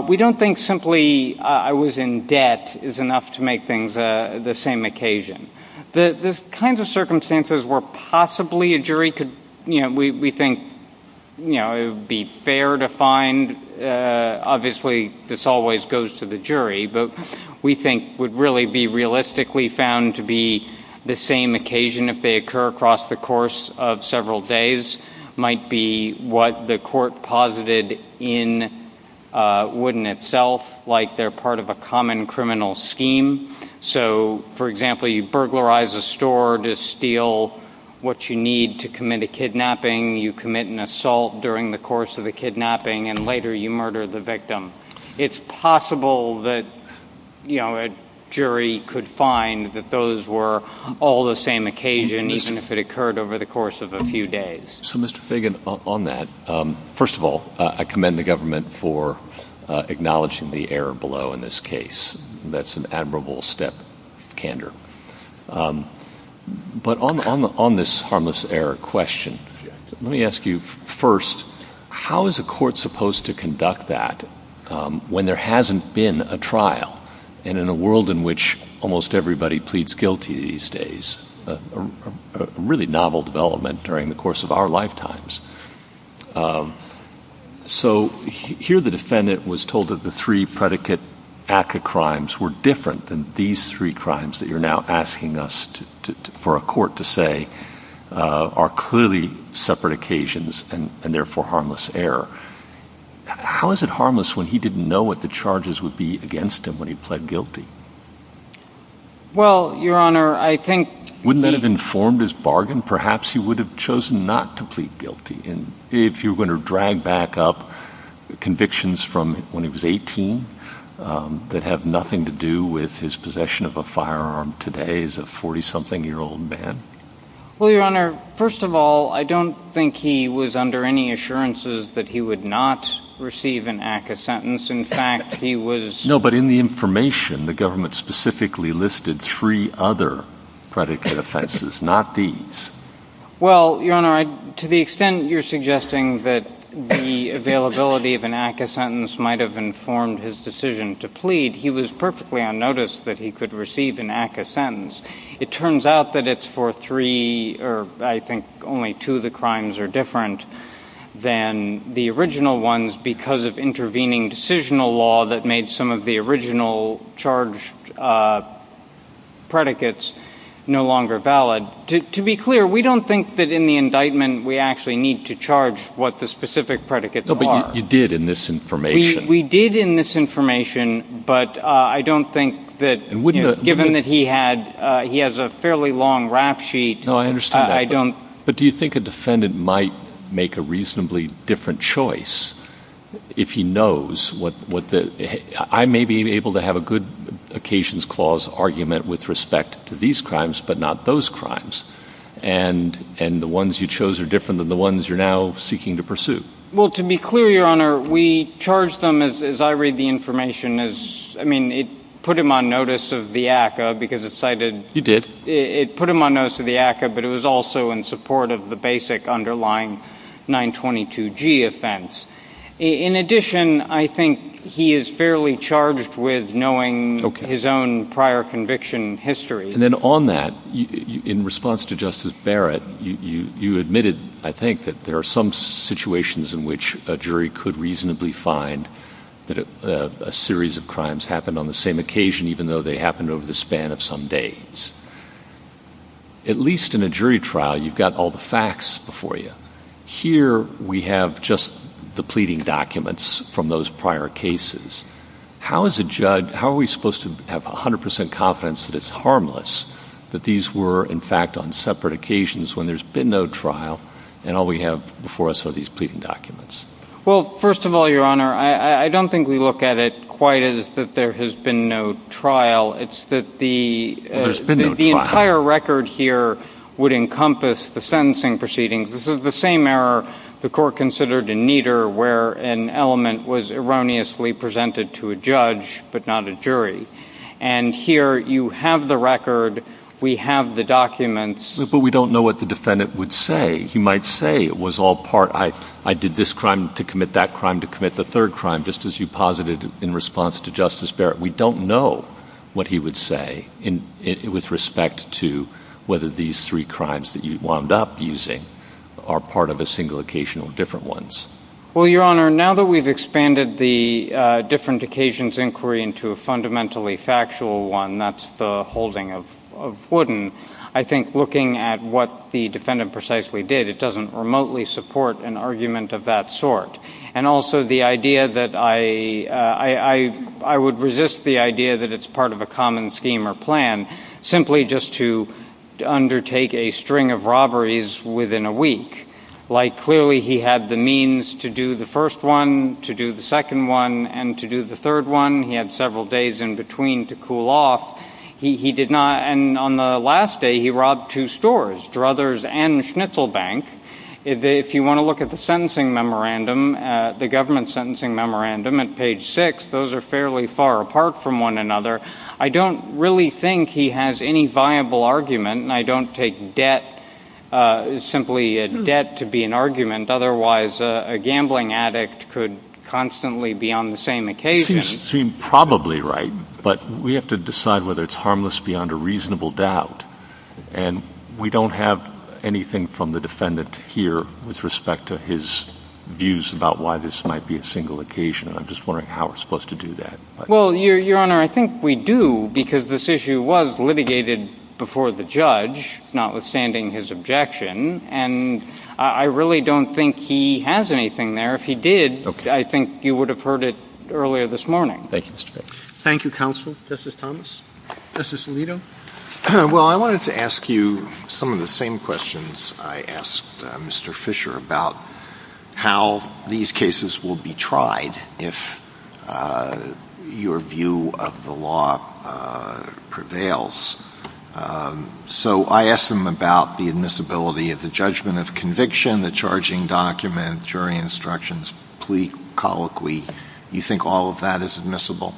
we don't think simply I was in debt is enough to make things the same occasion. The kinds of circumstances where possibly a jury could, you know, we think, you know, it would be fair to find, obviously this always goes to the jury, but we think would really be realistically found to be the same occasion if they occur across the course of several days might be what the court posited in Wooden itself, like they're part of a common criminal scheme. So, for example, you burglarize a store to steal what you need to commit a kidnapping, you commit an assault during the course of the kidnapping, and later you murder the victim. It's possible that, you know, a jury could find that those were all the same occasion, even if it occurred over the course of a few days. So, Mr. Fagan, on that, first of all, I commend the government for acknowledging the error below in this case. That's an admirable step, candor. But on this harmless error question, let me ask you first, how is a court supposed to conduct that when there hasn't been a trial and in a world in which almost everybody pleads guilty these days, a really novel development during the course of our lifetimes. So, here the defendant was told that the three predicate ACCA crimes were different than these three crimes that you're now asking us for a court to say are clearly separate occasions and therefore harmless error. How is it harmless when he didn't know what the charges would be against him when he pled guilty? Well, Your Honor, I think... If you're going to drag back up convictions from when he was 18 that have nothing to do with his possession of a firearm today as a 40-something-year-old man... Well, Your Honor, first of all, I don't think he was under any assurances that he would not receive an ACCA sentence. In fact, he was... No, but in the information, the government specifically listed three other predicate offenses, not these. Well, Your Honor, to the extent that you're suggesting that the availability of an ACCA sentence might have informed his decision to plead, he was perfectly unnoticed that he could receive an ACCA sentence. It turns out that it's for three... I think only two of the crimes are different than the original ones because of intervening decisional law that made some of the original charged predicates no longer valid. To be clear, we don't think that in the indictment we actually need to charge what the specific predicates are. No, but you did in this information. We did in this information, but I don't think that, given that he has a fairly long rap sheet... No, I understand that. I don't... But do you think a defendant might make a reasonably different choice if he knows what the... and the ones you chose are different than the ones you're now seeking to pursue? Well, to be clear, Your Honor, we charged him, as I read the information, as... I mean, it put him on notice of the ACCA because it cited... You did. It put him on notice of the ACCA, but it was also in support of the basic underlying 922G offense. In addition, I think he is fairly charged with knowing his own prior conviction history. And then on that, in response to Justice Barrett, you admitted, I think, that there are some situations in which a jury could reasonably find that a series of crimes happened on the same occasion, even though they happened over the span of some days. At least in a jury trial, you've got all the facts before you. Here we have just the pleading documents from those prior cases. How is a judge... How are we supposed to have 100% confidence that it's harmless, that these were, in fact, on separate occasions when there's been no trial, and all we have before us are these pleading documents? Well, first of all, Your Honor, I don't think we look at it quite as that there has been no trial. It's that the entire record here would encompass the sentencing proceedings. This is the same error the court considered in Nieder, where an element was erroneously presented to a judge but not a jury. And here you have the record. We have the documents. But we don't know what the defendant would say. He might say it was all part, I did this crime to commit that crime to commit the third crime, just as you posited in response to Justice Barrett. We don't know what he would say with respect to whether these three crimes that you wound up using are part of a single occasion or different ones. Well, Your Honor, now that we've expanded the different occasions inquiry into a fundamentally factual one, that's the holding of Wooden, I think looking at what the defendant precisely did, it doesn't remotely support an argument of that sort. And also the idea that I would resist the idea that it's part of a common scheme or plan, simply just to undertake a string of robberies within a week. Like clearly he had the means to do the first one, to do the second one, and to do the third one. He had several days in between to cool off. He did not, and on the last day he robbed two stores, Druthers and Schnitzel Bank. If you want to look at the sentencing memorandum, the government sentencing memorandum at page six, those are fairly far apart from one another. I don't really think he has any viable argument, and I don't take debt, simply debt to be an argument, otherwise a gambling addict could constantly be on the same occasion. Seems probably right, but we have to decide whether it's harmless beyond a reasonable doubt. And we don't have anything from the defendant here with respect to his views about why this might be a single occasion. I'm just wondering how we're supposed to do that. Well, Your Honor, I think we do, because this issue was litigated before the judge, notwithstanding his objection. And I really don't think he has anything there. If he did, I think you would have heard it earlier this morning. Thank you, Mr. Bates. Thank you, counsel. Justice Thomas? Justice Alito? Well, I wanted to ask you some of the same questions I asked Mr. Fisher about how these cases will be tried if your view of the law prevails. So I asked him about the admissibility of the judgment of conviction, the charging document, jury instructions, plea, colloquy. Do you think all of that is admissible?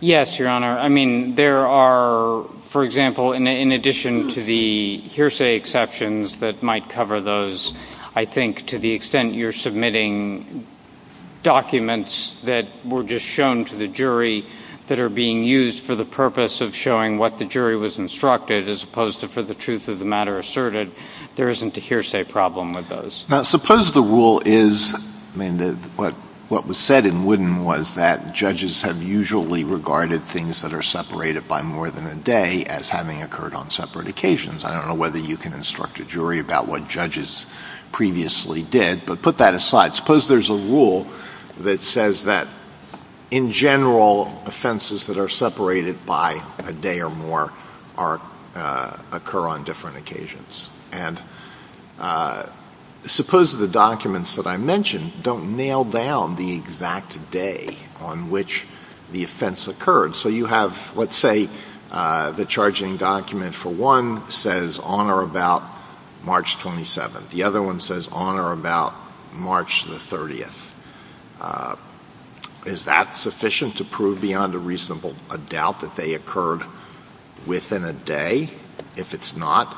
Yes, Your Honor. I mean, there are, for example, in addition to the hearsay exceptions that might cover those, I think to the extent you're submitting documents that were just shown to the jury that are being used for the purpose of showing what the jury was instructed as opposed to for the truth of the matter asserted, there isn't a hearsay problem with those. Now, suppose the rule is what was said in Wooden was that judges have usually regarded things that are separated by more than a day as having occurred on separate occasions. I don't know whether you can instruct a jury about what judges previously did, but put that aside. Suppose there's a rule that says that in general, offenses that are separated by a day or more occur on different occasions. And suppose the documents that I mentioned don't nail down the exact day on which the offense occurred. So you have, let's say, the charging document for one says on or about March 27th. The other one says on or about March 30th. Is that sufficient to prove beyond a reasonable doubt that they occurred within a day? If it's not,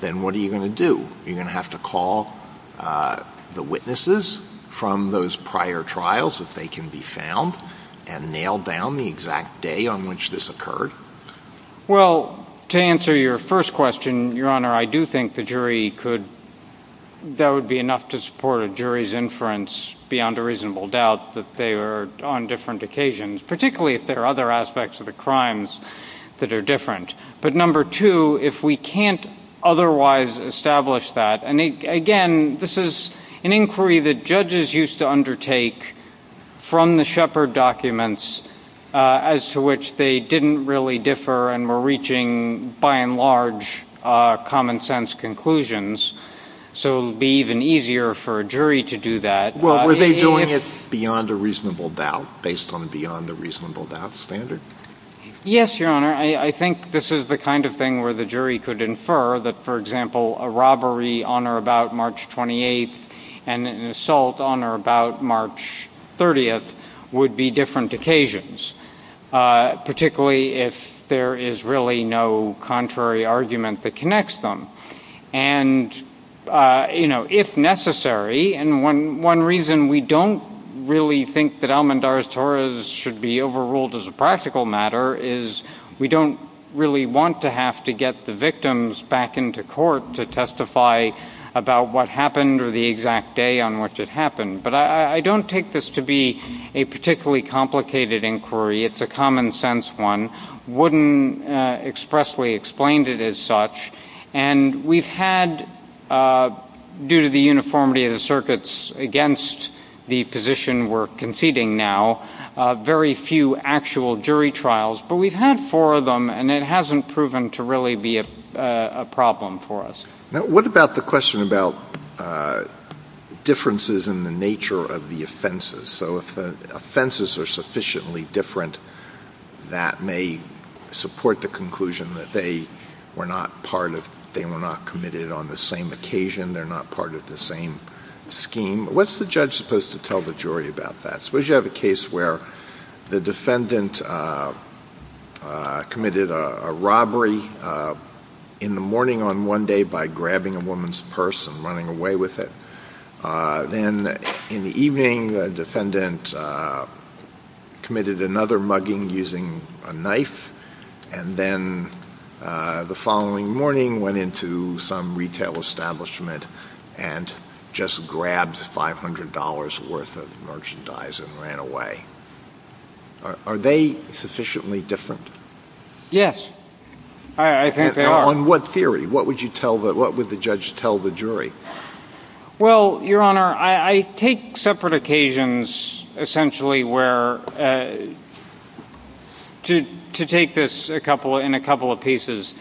then what are you going to do? Are you going to have to call the witnesses from those prior trials if they can be found and nail down the exact day on which this occurred? Well, to answer your first question, Your Honor, I do think the jury could, that would be enough to support a jury's inference beyond a reasonable doubt that they are on different occasions, particularly if there are other aspects of the crimes that are different. But number two, if we can't otherwise establish that, and again, this is an inquiry that judges used to undertake from the Shepard documents as to which they didn't really differ and were reaching, by and large, common sense conclusions. So it would be even easier for a jury to do that. Well, were they doing it beyond a reasonable doubt based on beyond a reasonable doubt standard? Yes, Your Honor. I think this is the kind of thing where the jury could infer that, for example, a robbery on or about March 28th and an assault on or about March 30th would be different occasions, particularly if there is really no contrary argument that connects them. And, you know, if necessary, and one reason we don't really think that Almandar's Torahs should be overruled as a practical matter is we don't really want to have to get the victims back into court to testify about what happened or the exact day on which it happened. But I don't take this to be a particularly complicated inquiry. It's a common sense one. Wooden expressly explained it as such. And we've had, due to the uniformity of the circuits against the position we're conceding now, very few actual jury trials. But we've had four of them, and it hasn't proven to really be a problem for us. Now, what about the question about differences in the nature of the offenses? So if the offenses are sufficiently different, that may support the conclusion that they were not part of, they were not committed on the same occasion, they're not part of the same scheme. What's the judge supposed to tell the jury about that? Suppose you have a case where the defendant committed a robbery in the morning on one day by grabbing a woman's purse and running away with it. Then in the evening, the defendant committed another mugging using a knife, and then the following morning went into some retail establishment and just grabbed $500 worth of merchandise and ran away. Are they sufficiently different? Yes, I think they are. Well, Your Honor, I take separate occasions essentially where, to take this in a couple of pieces,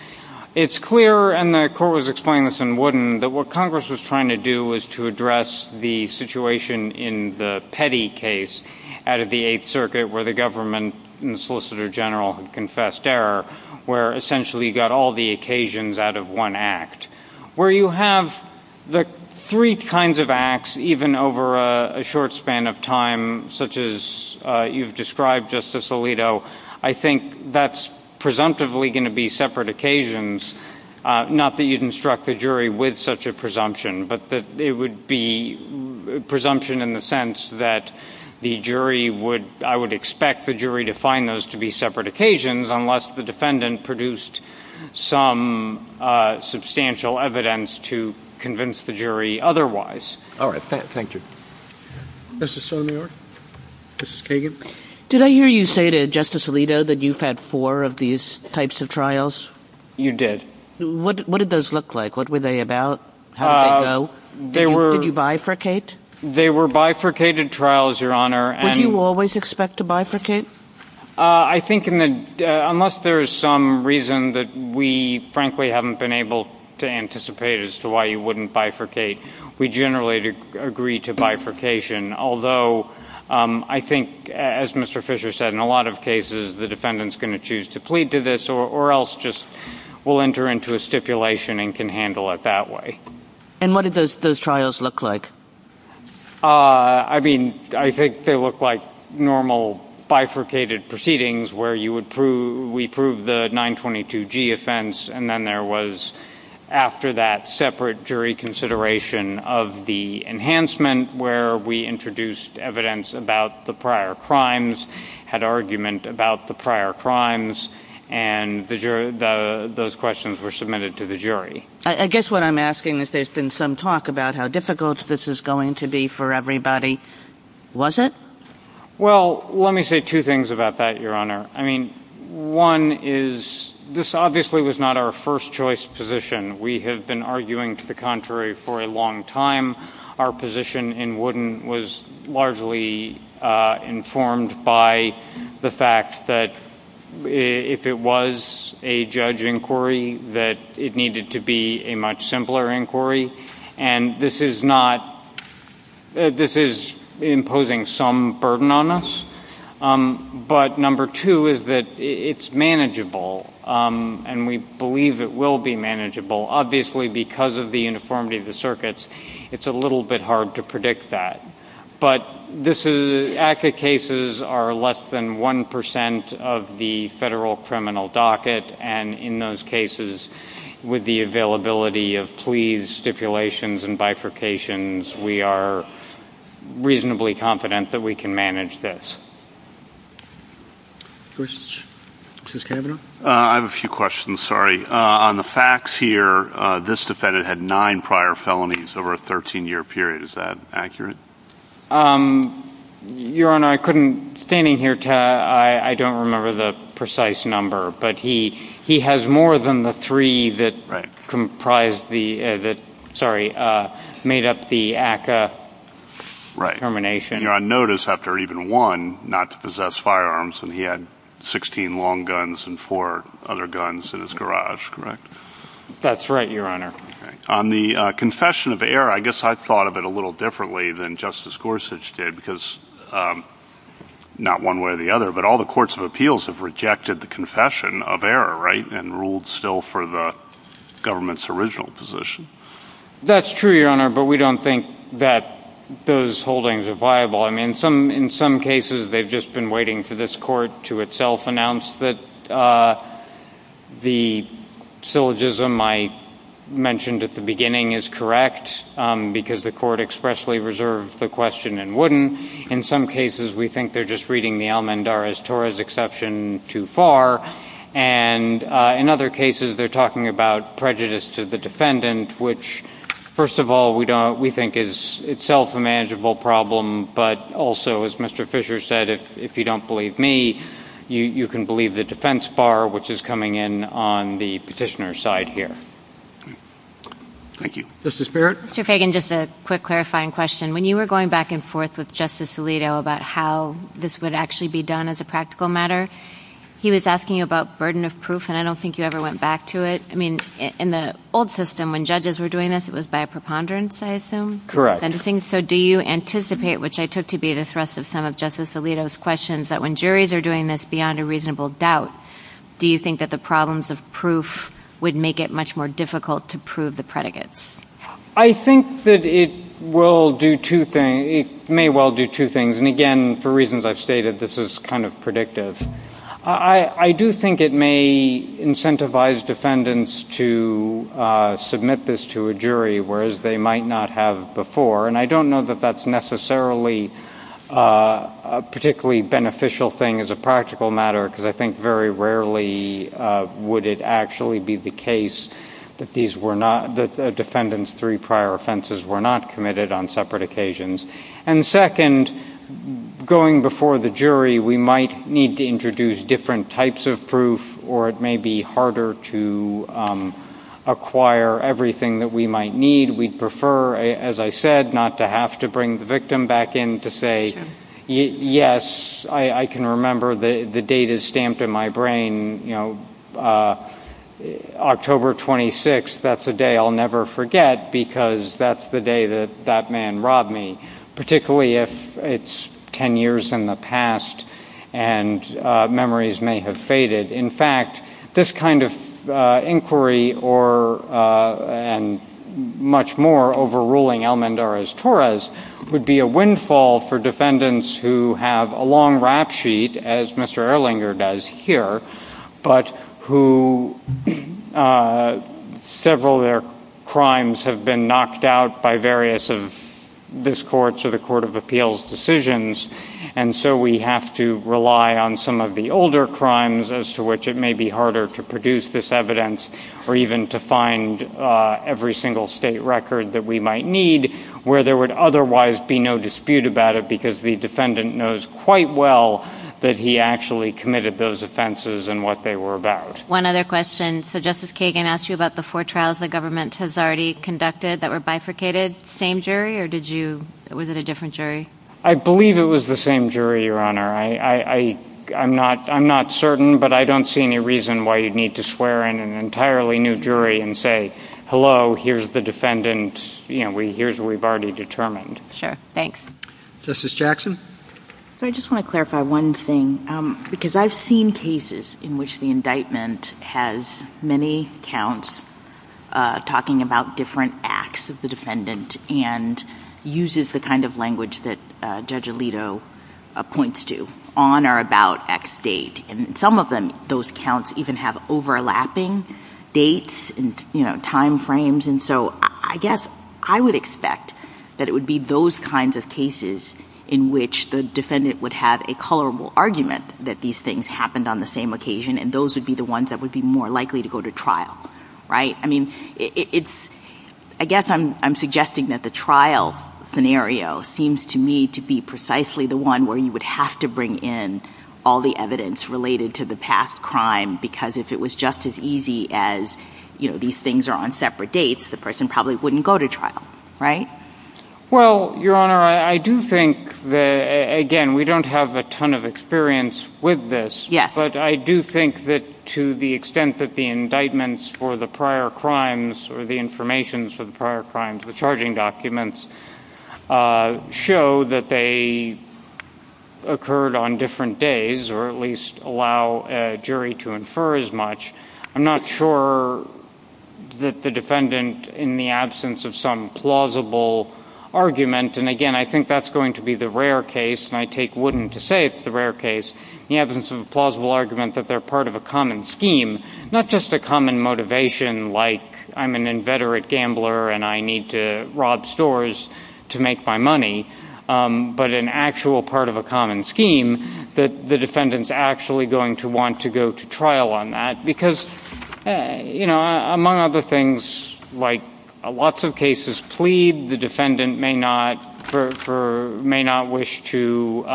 it's clear, and the Court was explaining this in Wooden, that what Congress was trying to do was to address the situation in the Petty case out of the Eighth Circuit where the government and the Solicitor General confessed error, where essentially you got all the occasions out of one act. Where you have the three kinds of acts, even over a short span of time, such as you've described, Justice Alito, I think that's presumptively going to be separate occasions, not that you'd instruct the jury with such a presumption, but that it would be presumption in the sense that the jury would, I would expect the jury to find those to be separate occasions unless the defendant produced some substantial evidence to convince the jury otherwise. All right. Thank you. Justice Sotomayor? Justice Kagan? Did I hear you say to Justice Alito that you've had four of these types of trials? You did. What did those look like? What were they about? How did they go? Did you bifurcate? They were bifurcated trials, Your Honor. Would you always expect to bifurcate? I think unless there is some reason that we, frankly, haven't been able to anticipate as to why you wouldn't bifurcate, we generally agree to bifurcation, although I think, as Mr. Fisher said, in a lot of cases, the defendant's going to choose to plead to this or else just will enter into a stipulation and can handle it that way. And what did those trials look like? I mean, I think they looked like normal bifurcated proceedings where we proved the 922G offense, and then there was, after that, separate jury consideration of the enhancement where we introduced evidence about the prior crimes, had argument about the prior crimes, and those questions were submitted to the jury. I guess what I'm asking is there's been some talk about how difficult this is going to be for everybody. Was it? Well, let me say two things about that, Your Honor. I mean, one is this obviously was not our first-choice position. We have been arguing to the contrary for a long time. Our position in Wooden was largely informed by the fact that if it was a judge inquiry, that it needed to be a much simpler inquiry, and this is imposing some burden on us. But number two is that it's manageable, and we believe it will be manageable. Obviously, because of the uniformity of the circuits, it's a little bit hard to predict that. But ACCA cases are less than 1% of the federal criminal docket, and in those cases, with the availability of pleas, stipulations, and bifurcations, we are reasonably confident that we can manage this. Questions? Justice Kennedy? I have a few questions, sorry. On the facts here, this defendant had nine prior felonies over a 13-year period. Is that accurate? Your Honor, I couldn't, standing here, I don't remember the precise number, but he has more than the three that made up the ACCA termination. Your Honor, notice after even one, not to possess firearms, and he had 16 long guns and four other guns in his garage, correct? That's right, Your Honor. On the confession of error, I guess I thought of it a little differently than Justice Gorsuch did, because not one way or the other, but all the courts of appeals have rejected the confession of error, right, and ruled still for the government's original position. That's true, Your Honor, but we don't think that those holdings are viable. I mean, in some cases, they've just been waiting for this court to itself announce that the syllogism I mentioned at the beginning is correct, because the court expressly reserved the question and wouldn't. In some cases, we think they're just reading the Almendarez-Torres exception too far, and in other cases, they're talking about prejudice to the defendant, which, first of all, we think is itself a manageable problem, but also, as Mr. Fisher said, if you don't believe me, you can believe the defense bar, which is coming in on the petitioner's side here. Thank you. Justice Barrett? Mr. Fagan, just a quick clarifying question. When you were going back and forth with Justice Alito about how this would actually be done as a practical matter, he was asking about burden of proof, and I don't think you ever went back to it. I mean, in the old system, when judges were doing this, it was by preponderance, I assume? Correct. Interesting. So do you anticipate, which I took to be the thrust of some of Justice Alito's questions, that when juries are doing this beyond a reasonable doubt, do you think that the problems of proof would make it much more difficult to prove the predicates? I think that it may well do two things, and again, for reasons I've stated, this is kind of predictive. I do think it may incentivize defendants to submit this to a jury, whereas they might not have before, and I don't know that that's necessarily a particularly beneficial thing as a practical matter, because I think very rarely would it actually be the case that these were not the defendants' three prior offenses were not committed on separate occasions. And second, going before the jury, we might need to introduce different types of proof, or it may be harder to acquire everything that we might need. We'd prefer, as I said, not to have to bring the victim back in to say, yes, I can remember the date is stamped in my brain, October 26th, that's a day I'll never forget, because that's the day that that man robbed me, particularly if it's ten years in the past and memories may have faded. In fact, this kind of inquiry and much more overruling Almendarez-Torres would be a windfall for defendants who have a long rap sheet, as Mr. Erlinger does here, but who several of their crimes have been knocked out by various of this Court's or the Court of Appeals' decisions, and so we have to rely on some of the older crimes as to which it may be harder to produce this evidence or even to find every single state record that we might need where there would otherwise be no dispute about it because the defendant knows quite well that he actually committed those offenses and what they were about. One other question. So Justice Kagan asked you about the four trials the government has already conducted that were bifurcated. Same jury, or was it a different jury? I believe it was the same jury, Your Honor. I'm not certain, but I don't see any reason why you'd need to swear in an entirely new jury and say, hello, here's the defendant, here's what we've already determined. Sure, thanks. Justice Jackson? I just want to clarify one thing, because I've seen cases in which the indictment has many counts talking about different acts of the defendant and uses the kind of language that Judge Alito points to, on or about X date, and some of those counts even have overlapping dates and timeframes, and so I guess I would expect that it would be those kinds of cases in which the defendant would have a colorable argument that these things happened on the same occasion and those would be the ones that would be more likely to go to trial, right? I mean, I guess I'm suggesting that the trial scenario seems to me to be precisely the one where you would have to bring in all the evidence related to the past crime because if it was just as easy as, you know, these things are on separate dates, the person probably wouldn't go to trial, right? Well, Your Honor, I do think that, again, we don't have a ton of experience with this, but I do think that to the extent that the indictments for the prior crimes or the information for the prior crimes, the charging documents, show that they occurred on different days or at least allow a jury to infer as much, I'm not sure that the defendant, in the absence of some plausible argument, and again, I think that's going to be the rare case, and I take wooden to say it's the rare case, in the absence of a plausible argument that they're part of a common scheme, not just a common motivation like I'm an inveterate gambler and I need to rob stores to make my money, but an actual part of a common scheme, that the defendant's actually going to want to go to trial on that because, you know, among other things, like lots of cases plead, the defendant may not wish to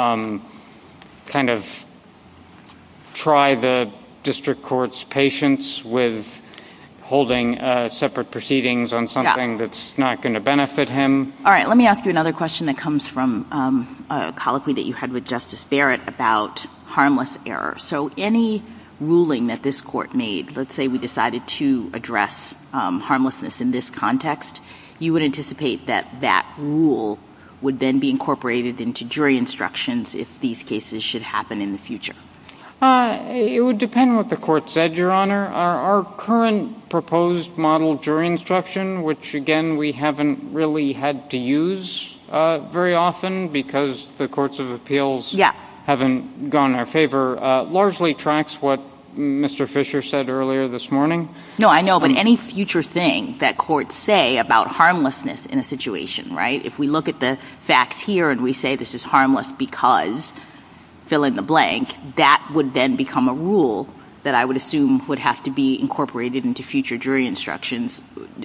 kind of try the district court's patience with holding separate proceedings on something that's not going to benefit him. All right. Let me ask you another question that comes from a colloquy that you had with Justice Barrett about harmless errors. So any ruling that this court made, let's say we decided to address harmlessness in this context, you would anticipate that that rule would then be incorporated into jury instructions if these cases should happen in the future? It would depend what the court said, Your Honor. Our current proposed model jury instruction, which, again, we haven't really had to use very often because the courts of appeals haven't gone our favor, largely tracks what Mr. Fisher said earlier this morning. No, I know, but any future thing that courts say about harmlessness in a situation, right, if we look at the fact here and we say this is harmless because fill in the blank, that would then become a rule that I would assume would have to be incorporated into future jury instructions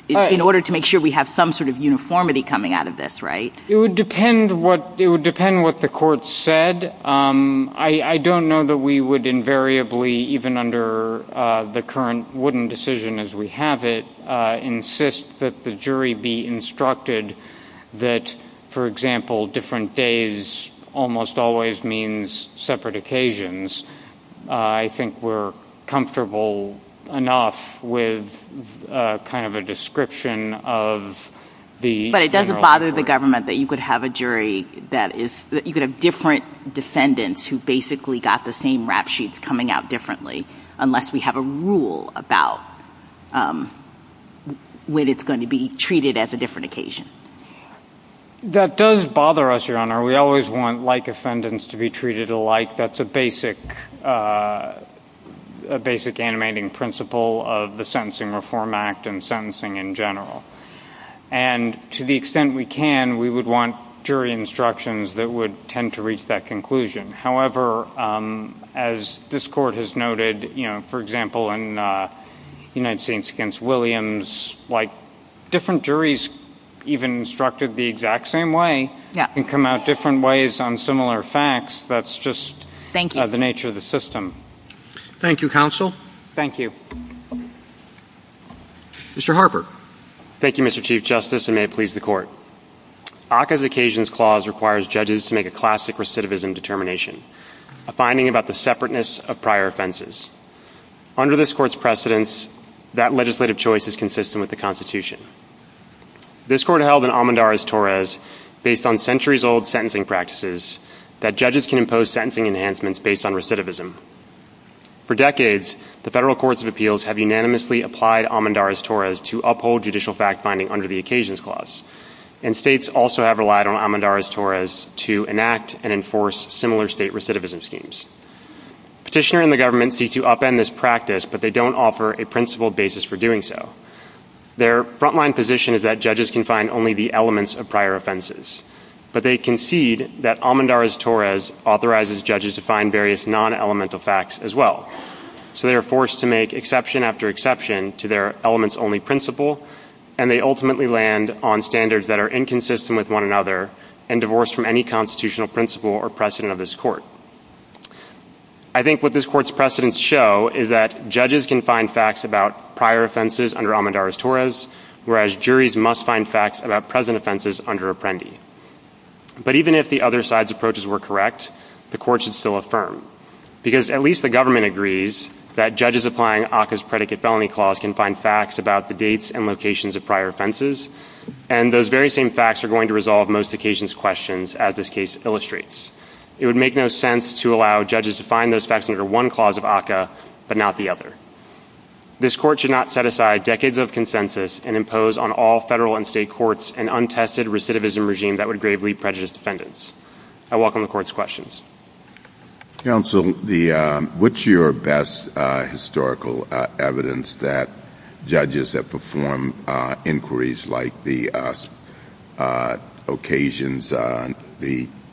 in order to make sure we have some sort of uniformity coming out of this, right? It would depend what the court said. I don't know that we would invariably, even under the current wooden decision as we have it, insist that the jury be instructed that, for example, different days almost always means separate occasions. I think we're comfortable enough with kind of a description of the general rule. We don't want defendants who basically got the same rap sheets coming out differently unless we have a rule about when it's going to be treated as a different occasion. That does bother us, Your Honor. We always want like defendants to be treated alike. That's a basic animating principle of the Sentencing Reform Act and sentencing in general. And to the extent we can, we would want jury instructions that would tend to reach that conclusion. However, as this court has noted, you know, for example, in United States v. Williams, like different juries even instructed the exact same way and come out different ways on similar facts. That's just the nature of the system. Thank you, counsel. Thank you. Mr. Harper. Thank you, Mr. Chief Justice, and may it please the Court. ACCA's Occasions Clause requires judges to make a classic recidivism determination, a finding about the separateness of prior offenses. Under this court's precedence, that legislative choice is consistent with the Constitution. This court held in Amandarres-Torres, based on centuries-old sentencing practices, that judges can impose sentencing enhancements based on recidivism. For decades, the federal courts of appeals have unanimously applied Amandarres-Torres to uphold judicial fact-finding under the Occasions Clause, and states also have relied on Amandarres-Torres to enact and enforce similar state recidivism schemes. Petitioners in the government seek to upend this practice, but they don't offer a principled basis for doing so. Their frontline position is that judges can find only the elements of prior offenses. But they concede that Amandarres-Torres authorizes judges to find various non-elemental facts as well. So they are forced to make exception after exception to their elements-only principle, and they ultimately land on standards that are inconsistent with one another and divorce from any constitutional principle or precedent of this court. I think what this court's precedence show is that judges can find facts about prior offenses under Amandarres-Torres, whereas juries must find facts about present offenses under Apprendi. But even if the other side's approaches were correct, the court should still affirm. Because at least the government agrees that judges applying OCCA's predicate felony clause can find facts about the dates and locations of prior offenses, and those very same facts are going to resolve most occasions' questions, as this case illustrates. It would make no sense to allow judges to find those facts under one clause of OCCA, but not the other. This court should not set aside decades of consensus and impose on all federal and state courts an untested recidivism regime that would gravely prejudice defendants. I welcome the court's questions. Counsel, what's your best historical evidence that judges have performed inquiries like the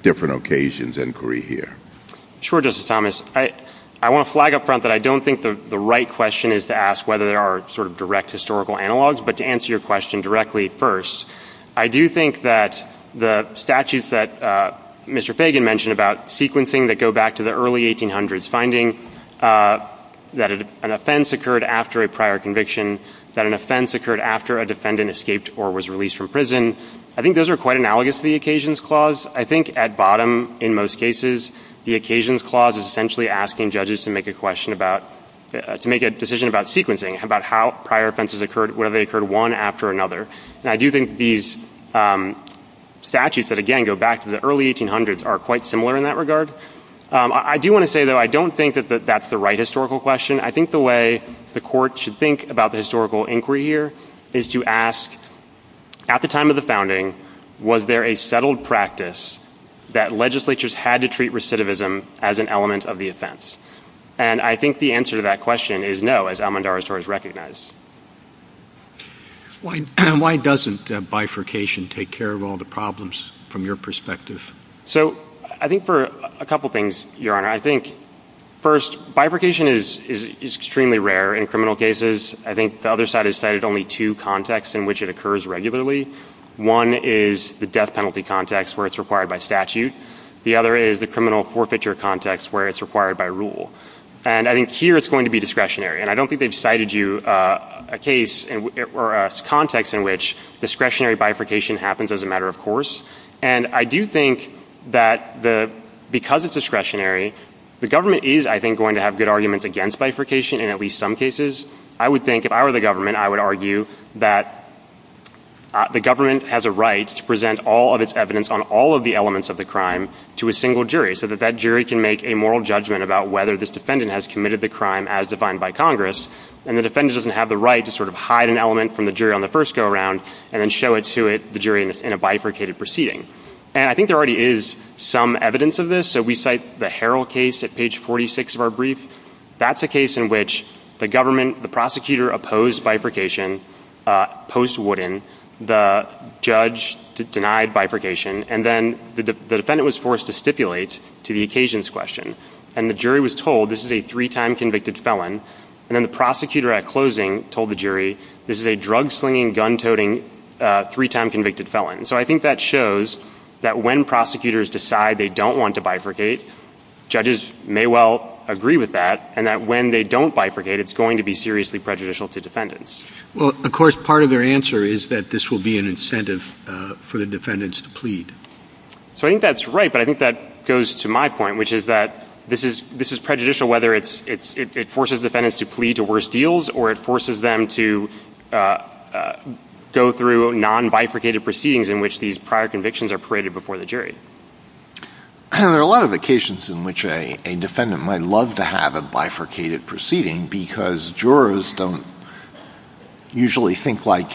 different occasions inquiry here? Sure, Justice Thomas. I want to flag up front that I don't think the right question is to ask whether there are sort of direct historical analogs, but to answer your question directly first, I do think that the statutes that Mr. Fagan mentioned about sequencing that go back to the early 1800s, finding that an offense occurred after a prior conviction, that an offense occurred after a defendant escaped or was released from prison, I think those are quite analogous to the occasions clause. I think at bottom, in most cases, the occasions clause is essentially asking judges to make a question about, to make a decision about sequencing, about how prior offenses occurred, whether they occurred one after another. And I do think these statutes that, again, go back to the early 1800s are quite similar in that regard. I do want to say, though, I don't think that that's the right historical question. I think the way the court should think about the historical inquiry here is to ask, at the time of the founding, was there a settled practice that legislatures had to treat recidivism as an element of the offense? And I think the answer to that question is no, as Almondara Soros recognized. Why doesn't bifurcation take care of all the problems from your perspective? So I think for a couple things, Your Honor. I think, first, bifurcation is extremely rare in criminal cases. I think the other side has cited only two contexts in which it occurs regularly. One is the death penalty context where it's required by statute. The other is the criminal forfeiture context where it's required by rule. And I think here it's going to be discretionary. And I don't think they've cited you a case or a context in which discretionary bifurcation happens as a matter of course. And I do think that because it's discretionary, the government is, I think, going to have good arguments against bifurcation in at least some cases. I would think, if I were the government, I would argue that the government has a right to present all of its evidence on all of the elements of the crime to a single jury so that that jury can make a moral judgment about whether this defendant has committed the crime as defined by Congress, and the defendant doesn't have the right to sort of hide an element from the jury on the first go-around and then show it to the jury in a bifurcated proceeding. And I think there already is some evidence of this. So we cite the Harrell case at page 46 of our brief. That's a case in which the government, the prosecutor, opposed bifurcation post-Wooden. The judge denied bifurcation. And then the defendant was forced to stipulate to the occasions question. And the jury was told this is a three-time convicted felon. And then the prosecutor at closing told the jury this is a drug-slinging, gun-toting, three-time convicted felon. And so I think that shows that when prosecutors decide they don't want to bifurcate, judges may well agree with that and that when they don't bifurcate, it's going to be seriously prejudicial to defendants. Well, of course, part of their answer is that this will be an incentive for the defendants to plead. So I think that's right, but I think that goes to my point, which is that this is prejudicial, whether it forces defendants to plead to worse deals or it forces them to go through non-bifurcated proceedings in which these prior convictions are paraded before the jury. There are a lot of occasions in which a defendant might love to have a bifurcated proceeding because jurors don't usually think like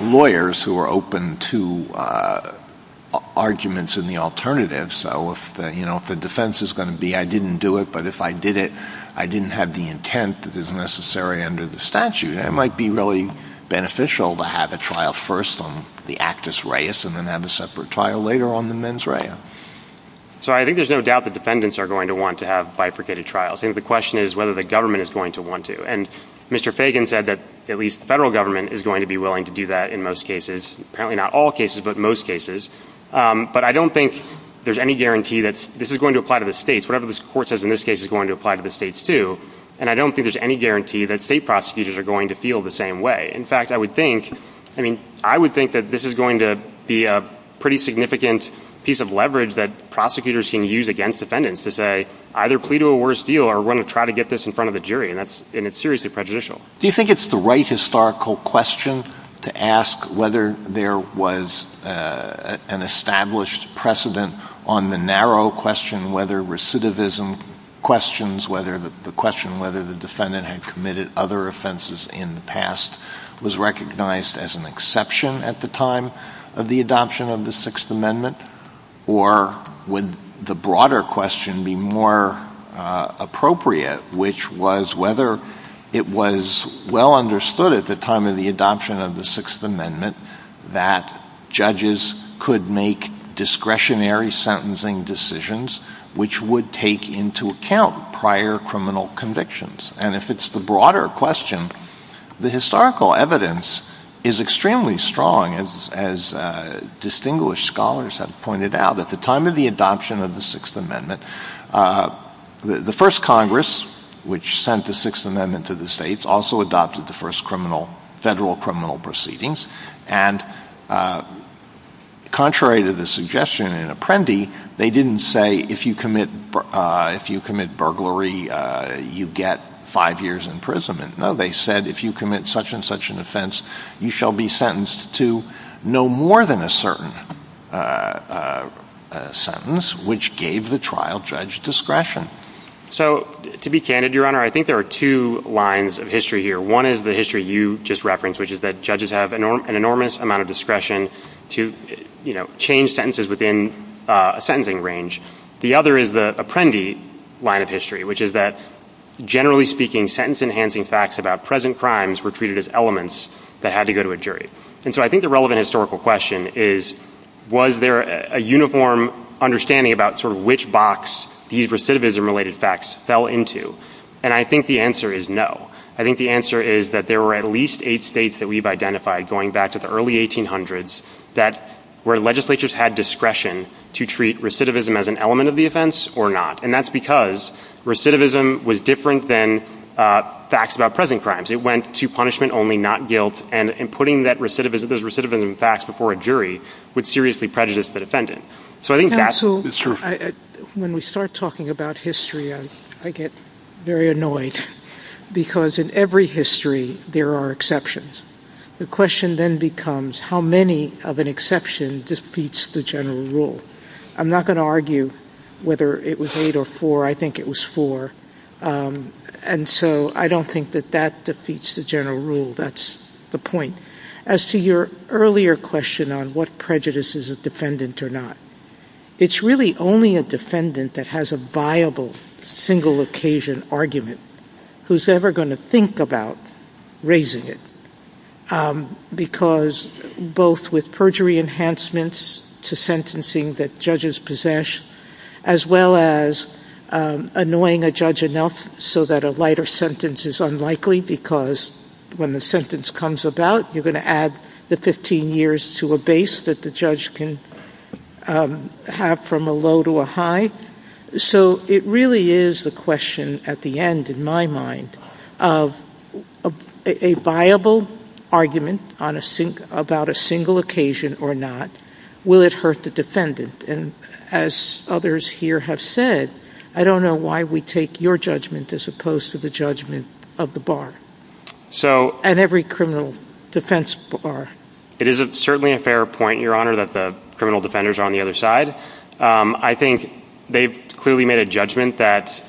lawyers who are open to arguments in the alternative. So if the defense is going to be, I didn't do it, but if I did it, I didn't have the intent that is necessary under the statute, it might be really beneficial to have a trial first on the actus reus and then have a separate trial later on the mens rea. So I think there's no doubt that defendants are going to want to have bifurcated trials. I think the question is whether the government is going to want to. And Mr. Fagan said that at least federal government is going to be willing to do that in most cases, apparently not all cases, but most cases. But I don't think there's any guarantee that this is going to apply to the states. Whatever this court says in this case is going to apply to the states, too. And I don't think there's any guarantee that state prosecutors are going to feel the same way. In fact, I would think that this is going to be a pretty significant piece of leverage that prosecutors can use against defendants to say either plea to a worse deal or we're going to try to get this in front of the jury, and it's seriously prejudicial. Do you think it's the right historical question to ask whether there was an established precedent on the narrow question whether recidivism questions the question whether the defendant had committed other offenses in the past was recognized as an exception at the time of the adoption of the Sixth Amendment? Or would the broader question be more appropriate, which was whether it was well understood at the time of the adoption of the Sixth Amendment that judges could make discretionary sentencing decisions, which would take into account prior criminal convictions? And if it's the broader question, the historical evidence is extremely strong, as distinguished scholars have pointed out. At the time of the adoption of the Sixth Amendment, the first Congress, which sent the Sixth Amendment to the states, also adopted the first federal criminal proceedings and contrary to the suggestion in Apprendi, they didn't say if you commit burglary, you get five years in prison. No, they said if you commit such and such an offense, you shall be sentenced to no more than a certain sentence, which gave the trial judge discretion. So to be candid, Your Honor, I think there are two lines of history here. One is the history you just referenced, which is that judges have an enormous amount of discretion to change sentences within a sentencing range. The other is the Apprendi line of history, which is that, generally speaking, sentence-enhancing facts about present crimes were treated as elements that had to go to a jury. And so I think the relevant historical question is, was there a uniform understanding about sort of which box these recidivism-related facts fell into? And I think the answer is no. I think the answer is that there were at least eight states that we've identified going back to the early 1800s where legislatures had discretion to treat recidivism as an element of the offense or not, and that's because recidivism was different than facts about present crimes. It went to punishment only, not guilt, and putting those recidivism facts before a jury would seriously prejudice the defendant. When we start talking about history, I get very annoyed because in every history there are exceptions. The question then becomes, how many of an exception defeats the general rule? I'm not going to argue whether it was eight or four. I think it was four. And so I don't think that that defeats the general rule. That's the point. As to your earlier question on what prejudices a defendant or not, it's really only a defendant that has a viable single occasion argument who's ever going to think about raising it, because both with perjury enhancements to sentencing that judges possess, as well as annoying a judge enough so that a lighter sentence is unlikely because when the sentence comes about you're going to add the 15 years to a base that the judge can have from a low to a high. So it really is a question at the end, in my mind, of a viable argument about a single occasion or not. And as others here have said, I don't know why we take your judgment as opposed to the judgment of the bar and every criminal defense bar. It is certainly a fair point, Your Honor, that the criminal defenders are on the other side. I think they've clearly made a judgment that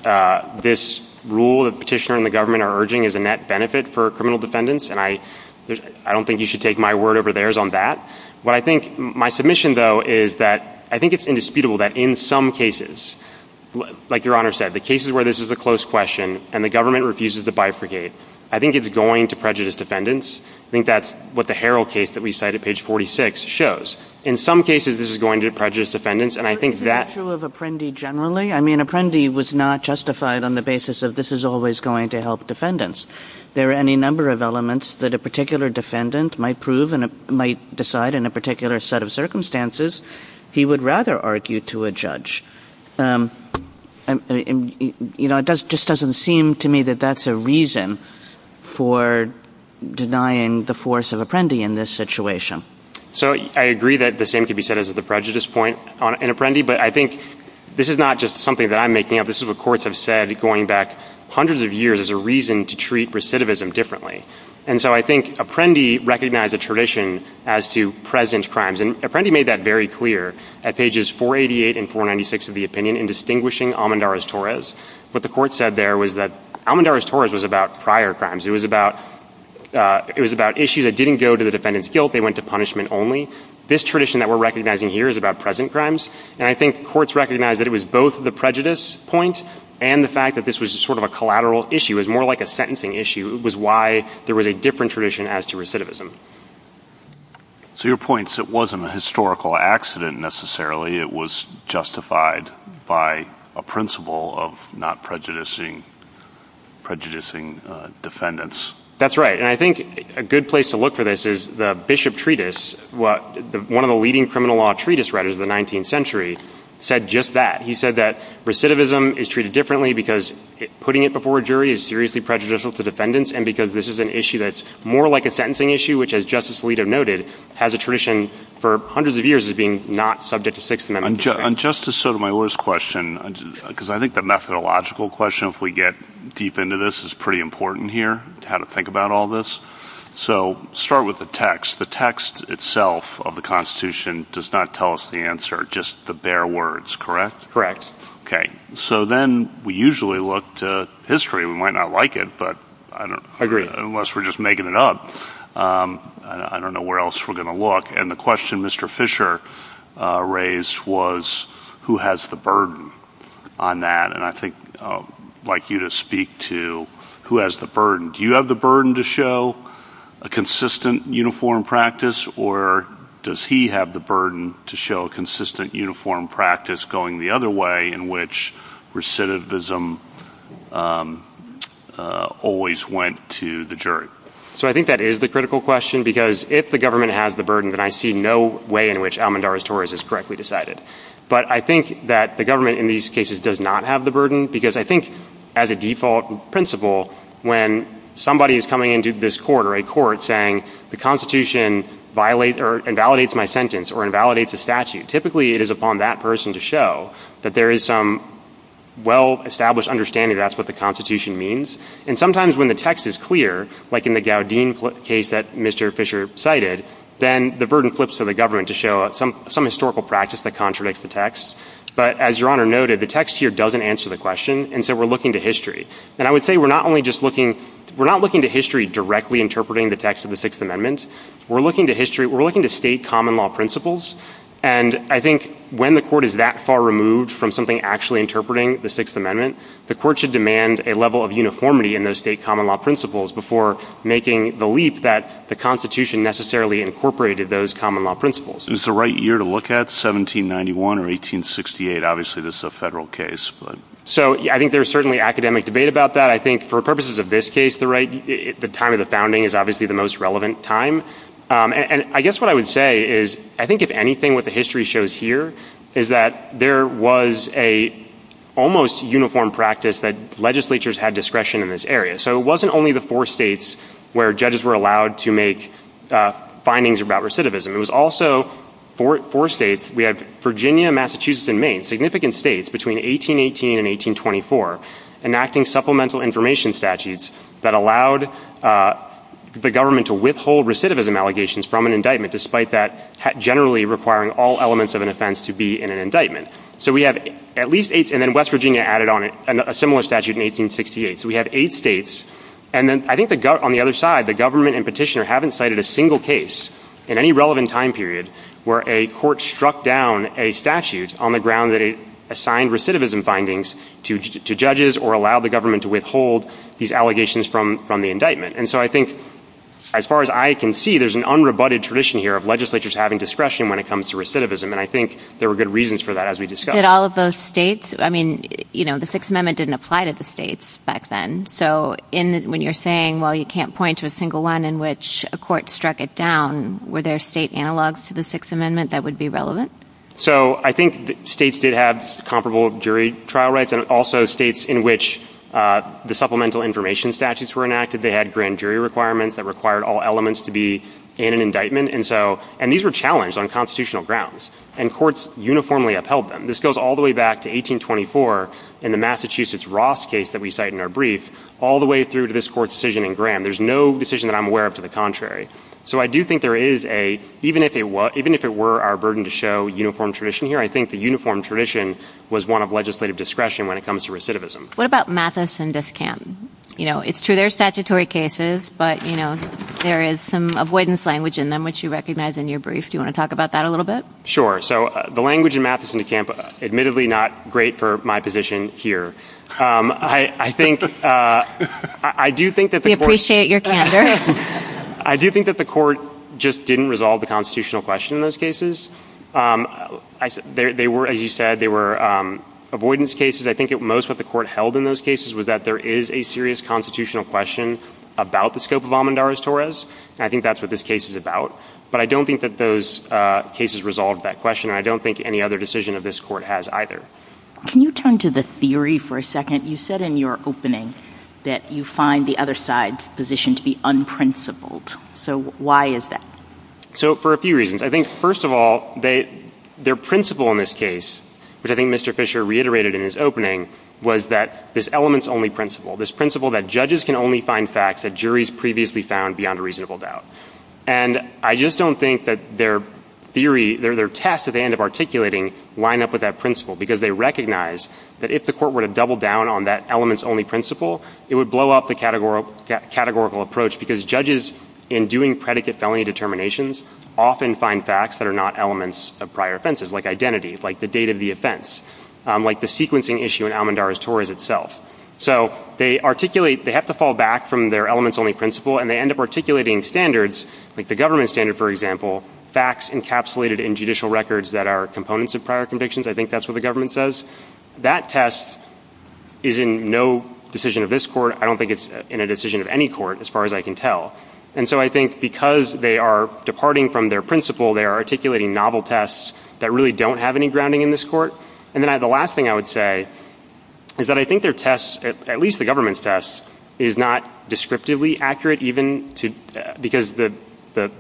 this rule the petitioner and the government are urging is a net benefit for criminal defendants, and I don't think you should take my word over theirs on that. But I think my submission, though, is that I think it's indisputable that in some cases, like Your Honor said, the cases where this is a close question and the government refuses to bifurcate, I think it's going to prejudice defendants. I think that's what the Harrell case that we cited, page 46, shows. In some cases this is going to prejudice defendants, and I think that... Is it true of Apprendi generally? I mean, Apprendi was not justified on the basis of this is always going to help defendants. There are any number of elements that a particular defendant might prove and might decide in a particular set of circumstances he would rather argue to a judge. You know, it just doesn't seem to me that that's a reason for denying the force of Apprendi in this situation. So I agree that the same could be said as the prejudice point on Apprendi, but I think this is not just something that I'm making up. This is what courts have said going back hundreds of years as a reason to treat recidivism differently. And so I think Apprendi recognized the tradition as to present crimes. And Apprendi made that very clear at pages 488 and 496 of the opinion in distinguishing Almendarez-Torres. What the court said there was that Almendarez-Torres was about prior crimes. It was about issues that didn't go to the defendant's guilt. They went to punishment only. This tradition that we're recognizing here is about present crimes. And I think courts recognize that it was both the prejudice point and the fact that this was sort of a collateral issue. It was more like a sentencing issue. It was why there was a different tradition as to recidivism. So your point is it wasn't a historical accident necessarily. It was justified by a principle of not prejudicing defendants. That's right. And I think a good place to look for this is the Bishop Treatise, one of the leading criminal law treatise writers of the 19th century, said just that. He said that recidivism is treated differently because putting it before a jury is seriously prejudicial to defendants and because this is an issue that's more like a sentencing issue, which, as Justice Alito noted, has a tradition for hundreds of years of being not subject to Sixth Amendment. On Justice Sotomayor's question, because I think the methodological question, if we get deep into this, is pretty important here, how to think about all this. So start with the text. The text itself of the Constitution does not tell us the answer, just the bare words, correct? Correct. Okay. So then we usually look to history. We might not like it, but unless we're just making it up, I don't know where else we're going to look. And the question Mr. Fisher raised was, who has the burden on that? And I think I'd like you to speak to who has the burden. Do you have the burden to show a consistent uniform practice, or does he have the burden to show a consistent uniform practice going the other way in which recidivism always went to the jury? So I think that is the critical question, because if the government has the burden, then I see no way in which Almandara's Tories is correctly decided. But I think that the government in these cases does not have the burden, because I think as a default principle, when somebody is coming into this court or a court saying the Constitution violates or invalidates my sentence or invalidates a statute, typically it is upon that person to show that there is some well-established understanding that that's what the Constitution means. And sometimes when the text is clear, like in the Gowdean case that Mr. Fisher cited, then the burden flips to the government to show some historical practice that contradicts the text. But as Your Honor noted, the text here doesn't answer the question, and so we're looking to history. And I would say we're not looking to history directly interpreting the text of the Sixth Amendment. We're looking to state common law principles. And I think when the court is that far removed from something actually interpreting the Sixth Amendment, the court should demand a level of uniformity in those state common law principles before making the leap that the Constitution necessarily incorporated those common law principles. Is the right year to look at, 1791 or 1868? Obviously this is a federal case. So I think there's certainly academic debate about that. I think for purposes of this case, the time of the founding is obviously the most relevant time. And I guess what I would say is I think if anything what the history shows here is that there was an almost uniform practice that legislatures had discretion in this area. So it wasn't only the four states where judges were allowed to make findings about recidivism. It was also four states. We have Virginia, Massachusetts, and Maine, significant states between 1818 and 1824, enacting supplemental information statutes that allowed the government to withhold recidivism allegations from an indictment, despite that generally requiring all elements of an offense to be in an indictment. So we have at least eight. And then West Virginia added on a similar statute in 1868. So we have eight states. And then I think on the other side, the government and petitioner haven't cited a single case in any relevant time period where a court struck down a statute on the ground that it assigned recidivism findings to judges or allowed the government to withhold these allegations from the indictment. And so I think as far as I can see, there's an unrebutted tradition here of legislatures having discretion when it comes to recidivism. And I think there were good reasons for that as we discussed. Did all of those states? I mean, you know, the Sixth Amendment didn't apply to the states back then. So when you're saying, well, you can't point to a single one in which a court struck it down, were there state analogs to the Sixth Amendment that would be relevant? So I think states did have comparable jury trial rights and also states in which the supplemental information statutes were enacted. They had grand jury requirements that required all elements to be in an indictment. And these were challenged on constitutional grounds. And courts uniformly upheld them. This goes all the way back to 1824 in the Massachusetts Ross case that we cite in our brief, all the way through to this court's decision in Graham. There's no decision that I'm aware of to the contrary. So I do think there is a, even if it were our burden to show uniform tradition here, I think the uniform tradition was one of legislative discretion when it comes to recidivism. What about Matheson v. Camp? You know, it's through their statutory cases, but, you know, there is some avoidance language in them which you recognize in your brief. Do you want to talk about that a little bit? Sure. So the language in Matheson v. Camp, admittedly not great for my position here. I do think that the court... We appreciate your candor. I do think that the court just didn't resolve the constitutional question in those cases. They were, as you said, they were avoidance cases. I think most of what the court held in those cases was that there is a serious constitutional question about the scope of Almendares-Torres, and I think that's what this case is about. But I don't think that those cases resolved that question, and I don't think any other decision of this court has either. Can you turn to the theory for a second? You said in your opening that you find the other side's position to be unprincipled. So why is that? So for a few reasons. I think, first of all, their principle in this case, which I think Mr. Fisher reiterated in his opening, was that this elements-only principle, this principle that judges can only find facts that juries previously found beyond a reasonable doubt. And I just don't think that their theory, their test that they end up articulating, line up with that principle because they recognize that if the court were to double down on that elements-only principle, it would blow up the categorical approach because judges in doing predicate felony determinations often find facts that are not elements of prior offenses, like identity, like the date of the offense, like the sequencing issue in Almendares-Torres itself. So they articulate, they have to fall back from their elements-only principle, and they end up articulating standards, like the government standard, for example, facts encapsulated in judicial records that are components of prior convictions. I think that's what the government says. That test is in no decision of this court. I don't think it's in a decision of any court, as far as I can tell. And so I think because they are departing from their principle, they are articulating novel tests that really don't have any grounding in this court. And then the last thing I would say is that I think their test, at least the government's test, is not descriptively accurate, even because the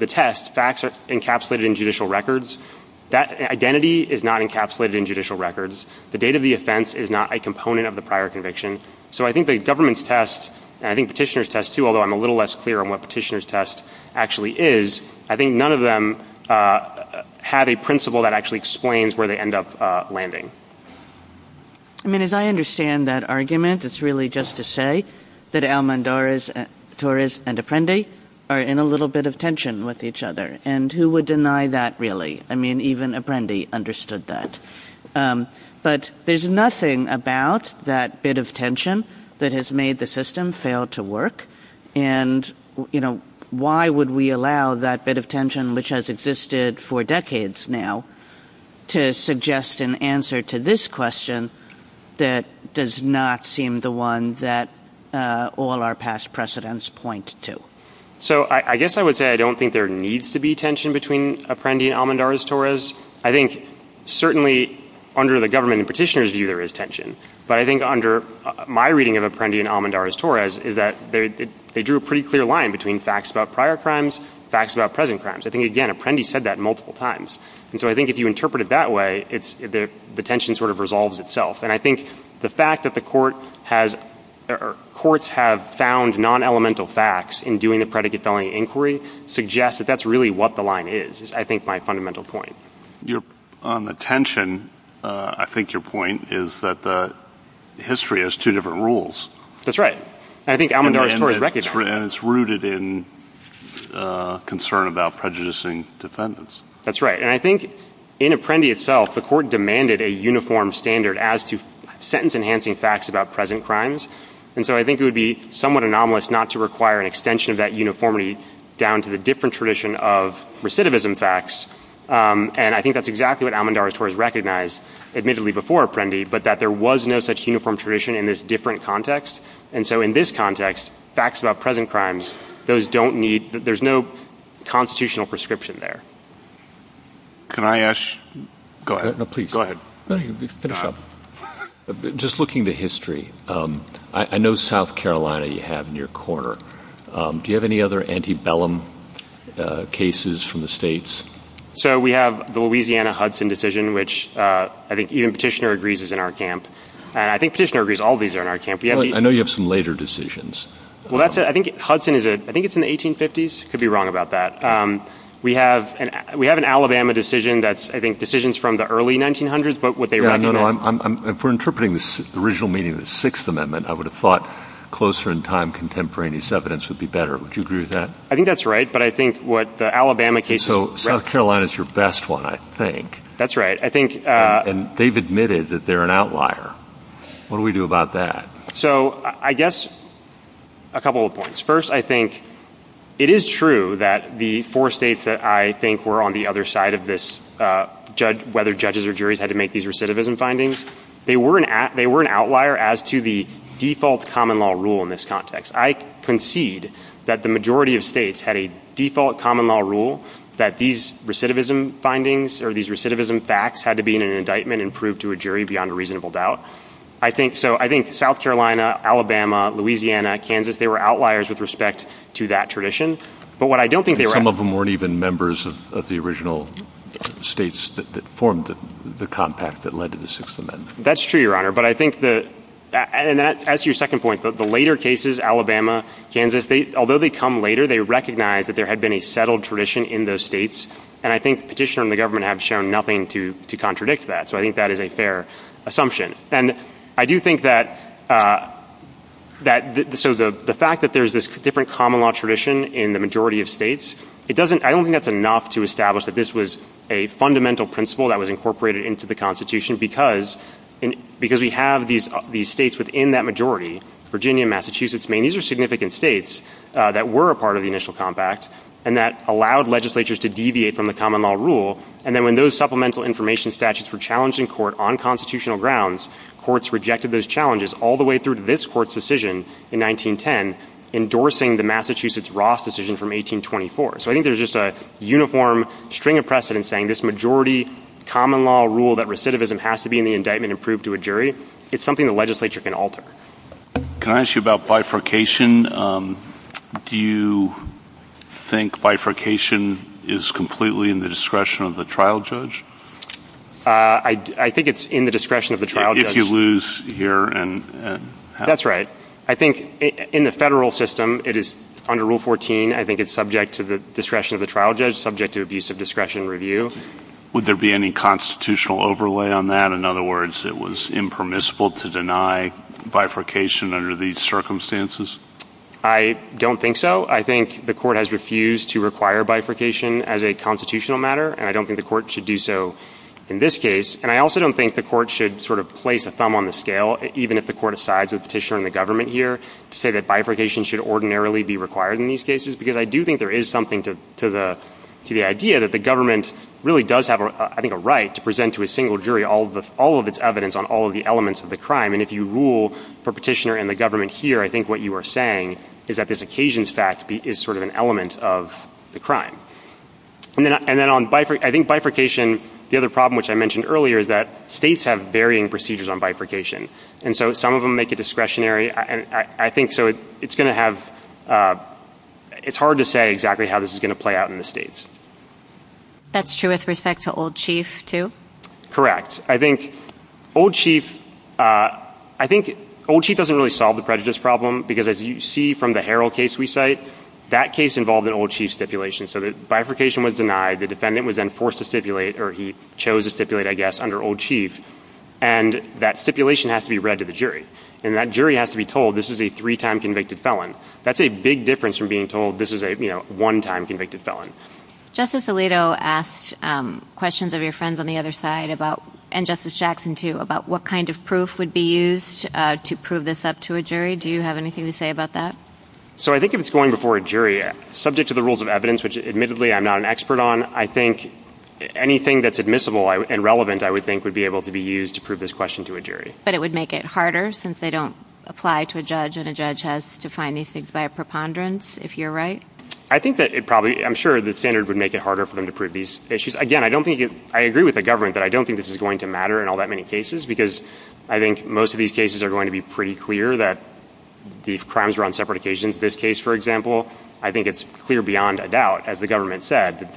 test, facts encapsulated in judicial records, that identity is not encapsulated in judicial records. The date of the offense is not a component of the prior conviction. So I think the government's test, and I think Petitioner's test, too, although I'm a little less clear on what Petitioner's test actually is, I think none of them have a principle that actually explains where they end up landing. I mean, as I understand that argument, it's really just to say that Almendares-Torres and Apprendi are in a little bit of tension with each other. And who would deny that, really? I mean, even Apprendi understood that. But there's nothing about that bit of tension that has made the system fail to work. And, you know, why would we allow that bit of tension, which has existed for decades now, to suggest an answer to this question that does not seem the one that all our past precedents point to? So I guess I would say I don't think there needs to be tension between Apprendi and Almendares-Torres. I think certainly under the government and Petitioner's view, there is tension. But I think under my reading of Apprendi and Almendares-Torres is that they drew a pretty clear line between facts about prior crimes, facts about present crimes. I think, again, Apprendi said that multiple times. And so I think if you interpret it that way, the tension sort of resolves itself. And I think the fact that the courts have found non-elemental facts in doing the predicate felony inquiry suggests that that's really what the line is, is I think my fundamental point. On the tension, I think your point is that history has two different rules. That's right. And I think Almendares-Torres recognized that. And it's rooted in concern about prejudicing defendants. That's right. And I think in Apprendi itself, the court demanded a uniform standard as to sentence-enhancing facts about present crimes. And so I think it would be somewhat anomalous not to require an extension of that uniformity down to the different tradition of recidivism facts. And I think that's exactly what Almendares-Torres recognized, admittedly before Apprendi, but that there was no such uniform tradition in this different context. And so in this context, facts about present crimes, those don't need... There's no constitutional prescription there. Can I ask... Go ahead. No, please, go ahead. No, you can finish up. Just looking to history, I know South Carolina you have in your corner. Do you have any other antebellum cases from the states? So we have the Louisiana-Hudson decision, which I think even Petitioner agrees is in our camp. I think Petitioner agrees all these are in our camp. I know you have some later decisions. Well, that's it. I think Hudson is... I think it's in the 1850s. Could be wrong about that. We have an Alabama decision that's, I think, decisions from the early 1900s, but what they recognize... No, no, no. If we're interpreting the original meaning of the Sixth Amendment, I would have thought closer in time contemporaneous evidence would be better. Would you agree with that? I think that's right, but I think what the Alabama case is... So South Carolina is your best one, I think. That's right. I think... And they've admitted that they're an outlier. What do we do about that? So I guess a couple of points. First, I think it is true that the four states that I think were on the other side of this, whether judges or juries had to make these recidivism findings, they were an outlier as to the default common law rule in this context. I concede that the majority of states had a default common law rule that these recidivism findings or these recidivism facts had to be in an indictment and proved to a jury beyond a reasonable doubt. So I think South Carolina, Alabama, Louisiana, Kansas, they were outliers with respect to that tradition, but what I don't think they were... Some of them weren't even members of the original states that formed the compact that led to the Sixth Amendment. That's true, Your Honor, but I think that... And that's your second point, but the later cases, Alabama, Kansas, although they come later, they recognize that there had been a settled tradition in those states, and I think Petitioner and the government have shown nothing to contradict that, so I think that is a fair assumption. And I do think that... So the fact that there's this different common law tradition in the majority of states, I don't think that's enough to establish that this was a fundamental principle that was incorporated into the Constitution because we have these states within that majority, Virginia, Massachusetts, Maine. These are significant states that were a part of the initial compact and that allowed legislatures to deviate from the common law rule, and then when those supplemental information statutes were challenged in court on constitutional grounds, courts rejected those challenges all the way through this court's decision in 1910, endorsing the Massachusetts Ross decision from 1824. So I think there's just a uniform string of precedents saying this majority common law rule that recidivism has to be in the indictment and proved to a jury, it's something the legislature can alter. Can I ask you about bifurcation? Do you think bifurcation is completely in the discretion of the trial judge? I think it's in the discretion of the trial judge. If you lose here and... That's right. I think in the federal system, it is under Rule 14. I think it's subject to the discretion of the trial judge, subject to abuse of discretion and review. Would there be any constitutional overlay on that? In other words, it was impermissible to deny bifurcation under these circumstances? I don't think so. I think the court has refused to require bifurcation as a constitutional matter, and I don't think the court should do so in this case, and I also don't think the court should sort of place a thumb on the scale, even if the court decides, the petitioner and the government here, say that bifurcation should ordinarily be required in these cases, because I do think there is something to the idea that the government really does have, I think, a right to present to a single jury all of its evidence on all of the elements of the crime, and if you rule for petitioner and the government here, I think what you are saying is that this occasions fact is sort of an element of the crime. And then on bifurcation, the other problem which I mentioned earlier is that states have varying procedures on bifurcation, and so some of them make it discretionary. I think so. It's going to have... It's hard to say exactly how this is going to play out in the states. That's true with respect to Old Chief, too? Correct. I think Old Chief... I think Old Chief doesn't really solve the prejudice problem, because as you see from the Herald case we cite, that case involved an Old Chief stipulation, so that bifurcation was denied, the defendant was then forced to stipulate, and that stipulation has to be read to the jury, and that jury has to be told this is a three-time convicted felon. That's a big difference from being told this is a one-time convicted felon. Justice Alito asked questions of your friends on the other side, and Justice Jackson, too, about what kind of proof would be used to prove this up to a jury. Do you have anything to say about that? So I think if it's going before a jury, subject to the rules of evidence, which admittedly I'm not an expert on, I think anything that's admissible and relevant, I would think would be able to be used to prove this question to a jury. But it would make it harder, since they don't apply to a judge, and a judge has to find these things by a preponderance, if you're right? I think that it probably... I'm sure the standard would make it harder for them to prove these issues. Again, I don't think... I agree with the government that I don't think this is going to matter in all that many cases, because I think most of these cases are going to be pretty clear that these crimes were on separate occasions. This case, for example, I think it's clear beyond a doubt, as the government said, that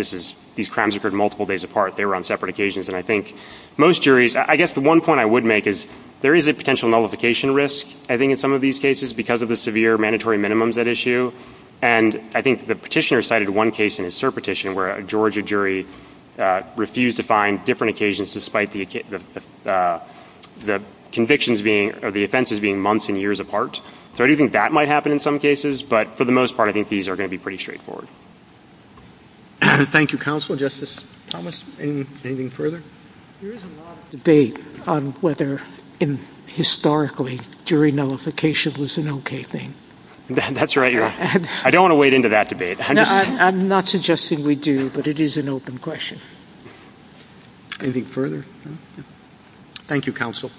these crimes occurred multiple days apart, they were on separate occasions, and I think most juries... I guess the one point I would make is there is a potential nullification risk, I think, in some of these cases, because of the severe mandatory minimums at issue. And I think the petitioner cited one case in his surpetition, where a Georgia jury refused to find different occasions despite the convictions being... or the offenses being months and years apart. So I do think that might happen in some cases, but for the most part, I think these are going to be pretty straightforward. Thank you, Counselor. Justice Thomas, anything further? There is a lot of debate on whether, historically, jury nullification was an okay thing. That's right. I don't want to wade into that debate. I'm not suggesting we do, but it is an open question. Anything further? Thank you, Counsel.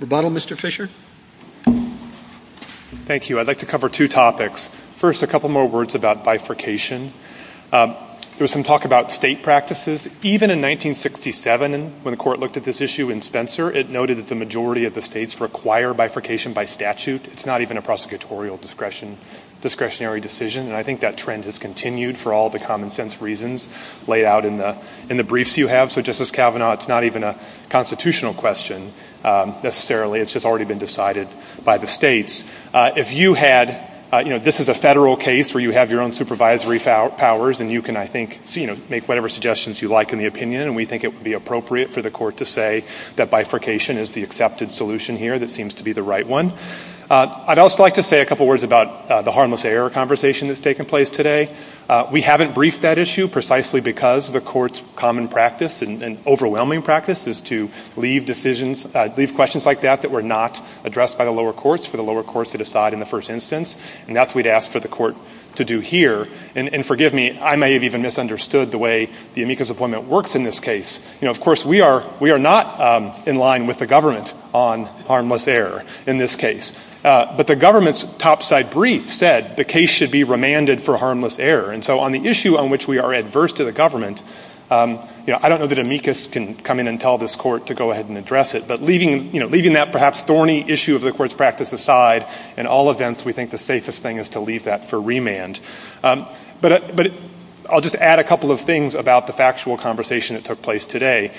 The bottle, Mr. Fisher? Thank you. I'd like to cover two topics. First, a couple more words about bifurcation. There was some talk about state practices. Even in 1967, when the court looked at this issue in Spencer, it noted that the majority of the states require bifurcation by statute. It's not even a prosecutorial discretionary decision, and I think that trend has continued for all the common-sense reasons laid out in the briefs you have. So, Justice Kavanaugh, it's not even a constitutional question, necessarily. It's just already been decided by the states. If you had... You know, this is a federal case where you have your own supervisory powers, and you can, I think, you know, make whatever suggestions you like in the opinion, and we think it would be appropriate for the court to say that bifurcation is the accepted solution here that seems to be the right one. I'd also like to say a couple words about the harmless error conversation that's taken place today. We haven't briefed that issue precisely because the court's common practice and overwhelming practice is to leave decisions, leave questions like that that were not addressed by the lower courts for the lower courts to decide in the first instance, and that's what we'd ask for the court to do here. And forgive me. I may have even misunderstood the way the amicus appointment works in this case. You know, of course, we are not in line with the government on harmless error in this case, but the government's topside brief said the case should be remanded for harmless error, and so on the issue on which we are adverse to the government, I don't know that amicus can come in and tell this court to go ahead and address it, but leaving that perhaps thorny issue of the court's practice aside, in all events, we think the safest thing is to leave that for remand. But I'll just add a couple of things about the factual conversation that took place today.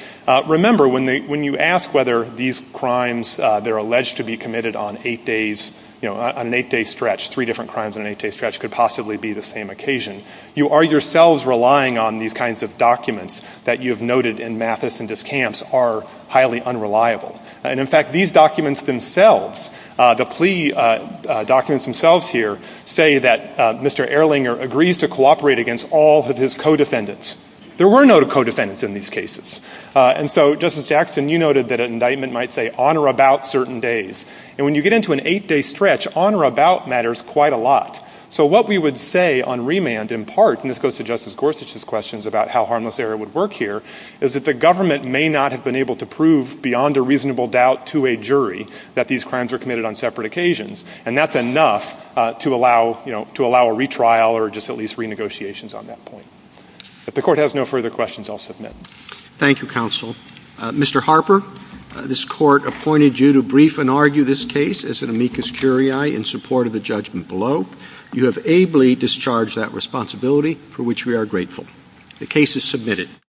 Remember, when you ask whether these crimes, they're alleged to be committed on eight days, you know, on an eight-day stretch, three different crimes on an eight-day stretch could possibly be the same occasion, you are yourselves relying on these kinds of documents that you have noted in Mathis and Diskamps are highly unreliable. And, in fact, these documents themselves, the plea documents themselves here, say that Mr. Ehrlinger agrees to cooperate against all of his co-defendants. There were no co-defendants in these cases. And so, Justice Axson, you noted that an indictment might say on or about certain days. And when you get into an eight-day stretch, on or about matters quite a lot. So what we would say on remand, in part, and this goes to Justice Gorsuch's questions about how harmless error would work here, is that the government may not have been able to prove beyond a reasonable doubt to a jury that these crimes were committed on separate occasions, and that's enough to allow a retrial or just at least renegotiations on that point. If the Court has no further questions, I'll submit. Thank you, Counsel. Mr. Harper, this Court appointed you to brief and argue this case as an amicus curiae in support of the judgment below. You have ably discharged that responsibility, for which we are grateful. The case is submitted.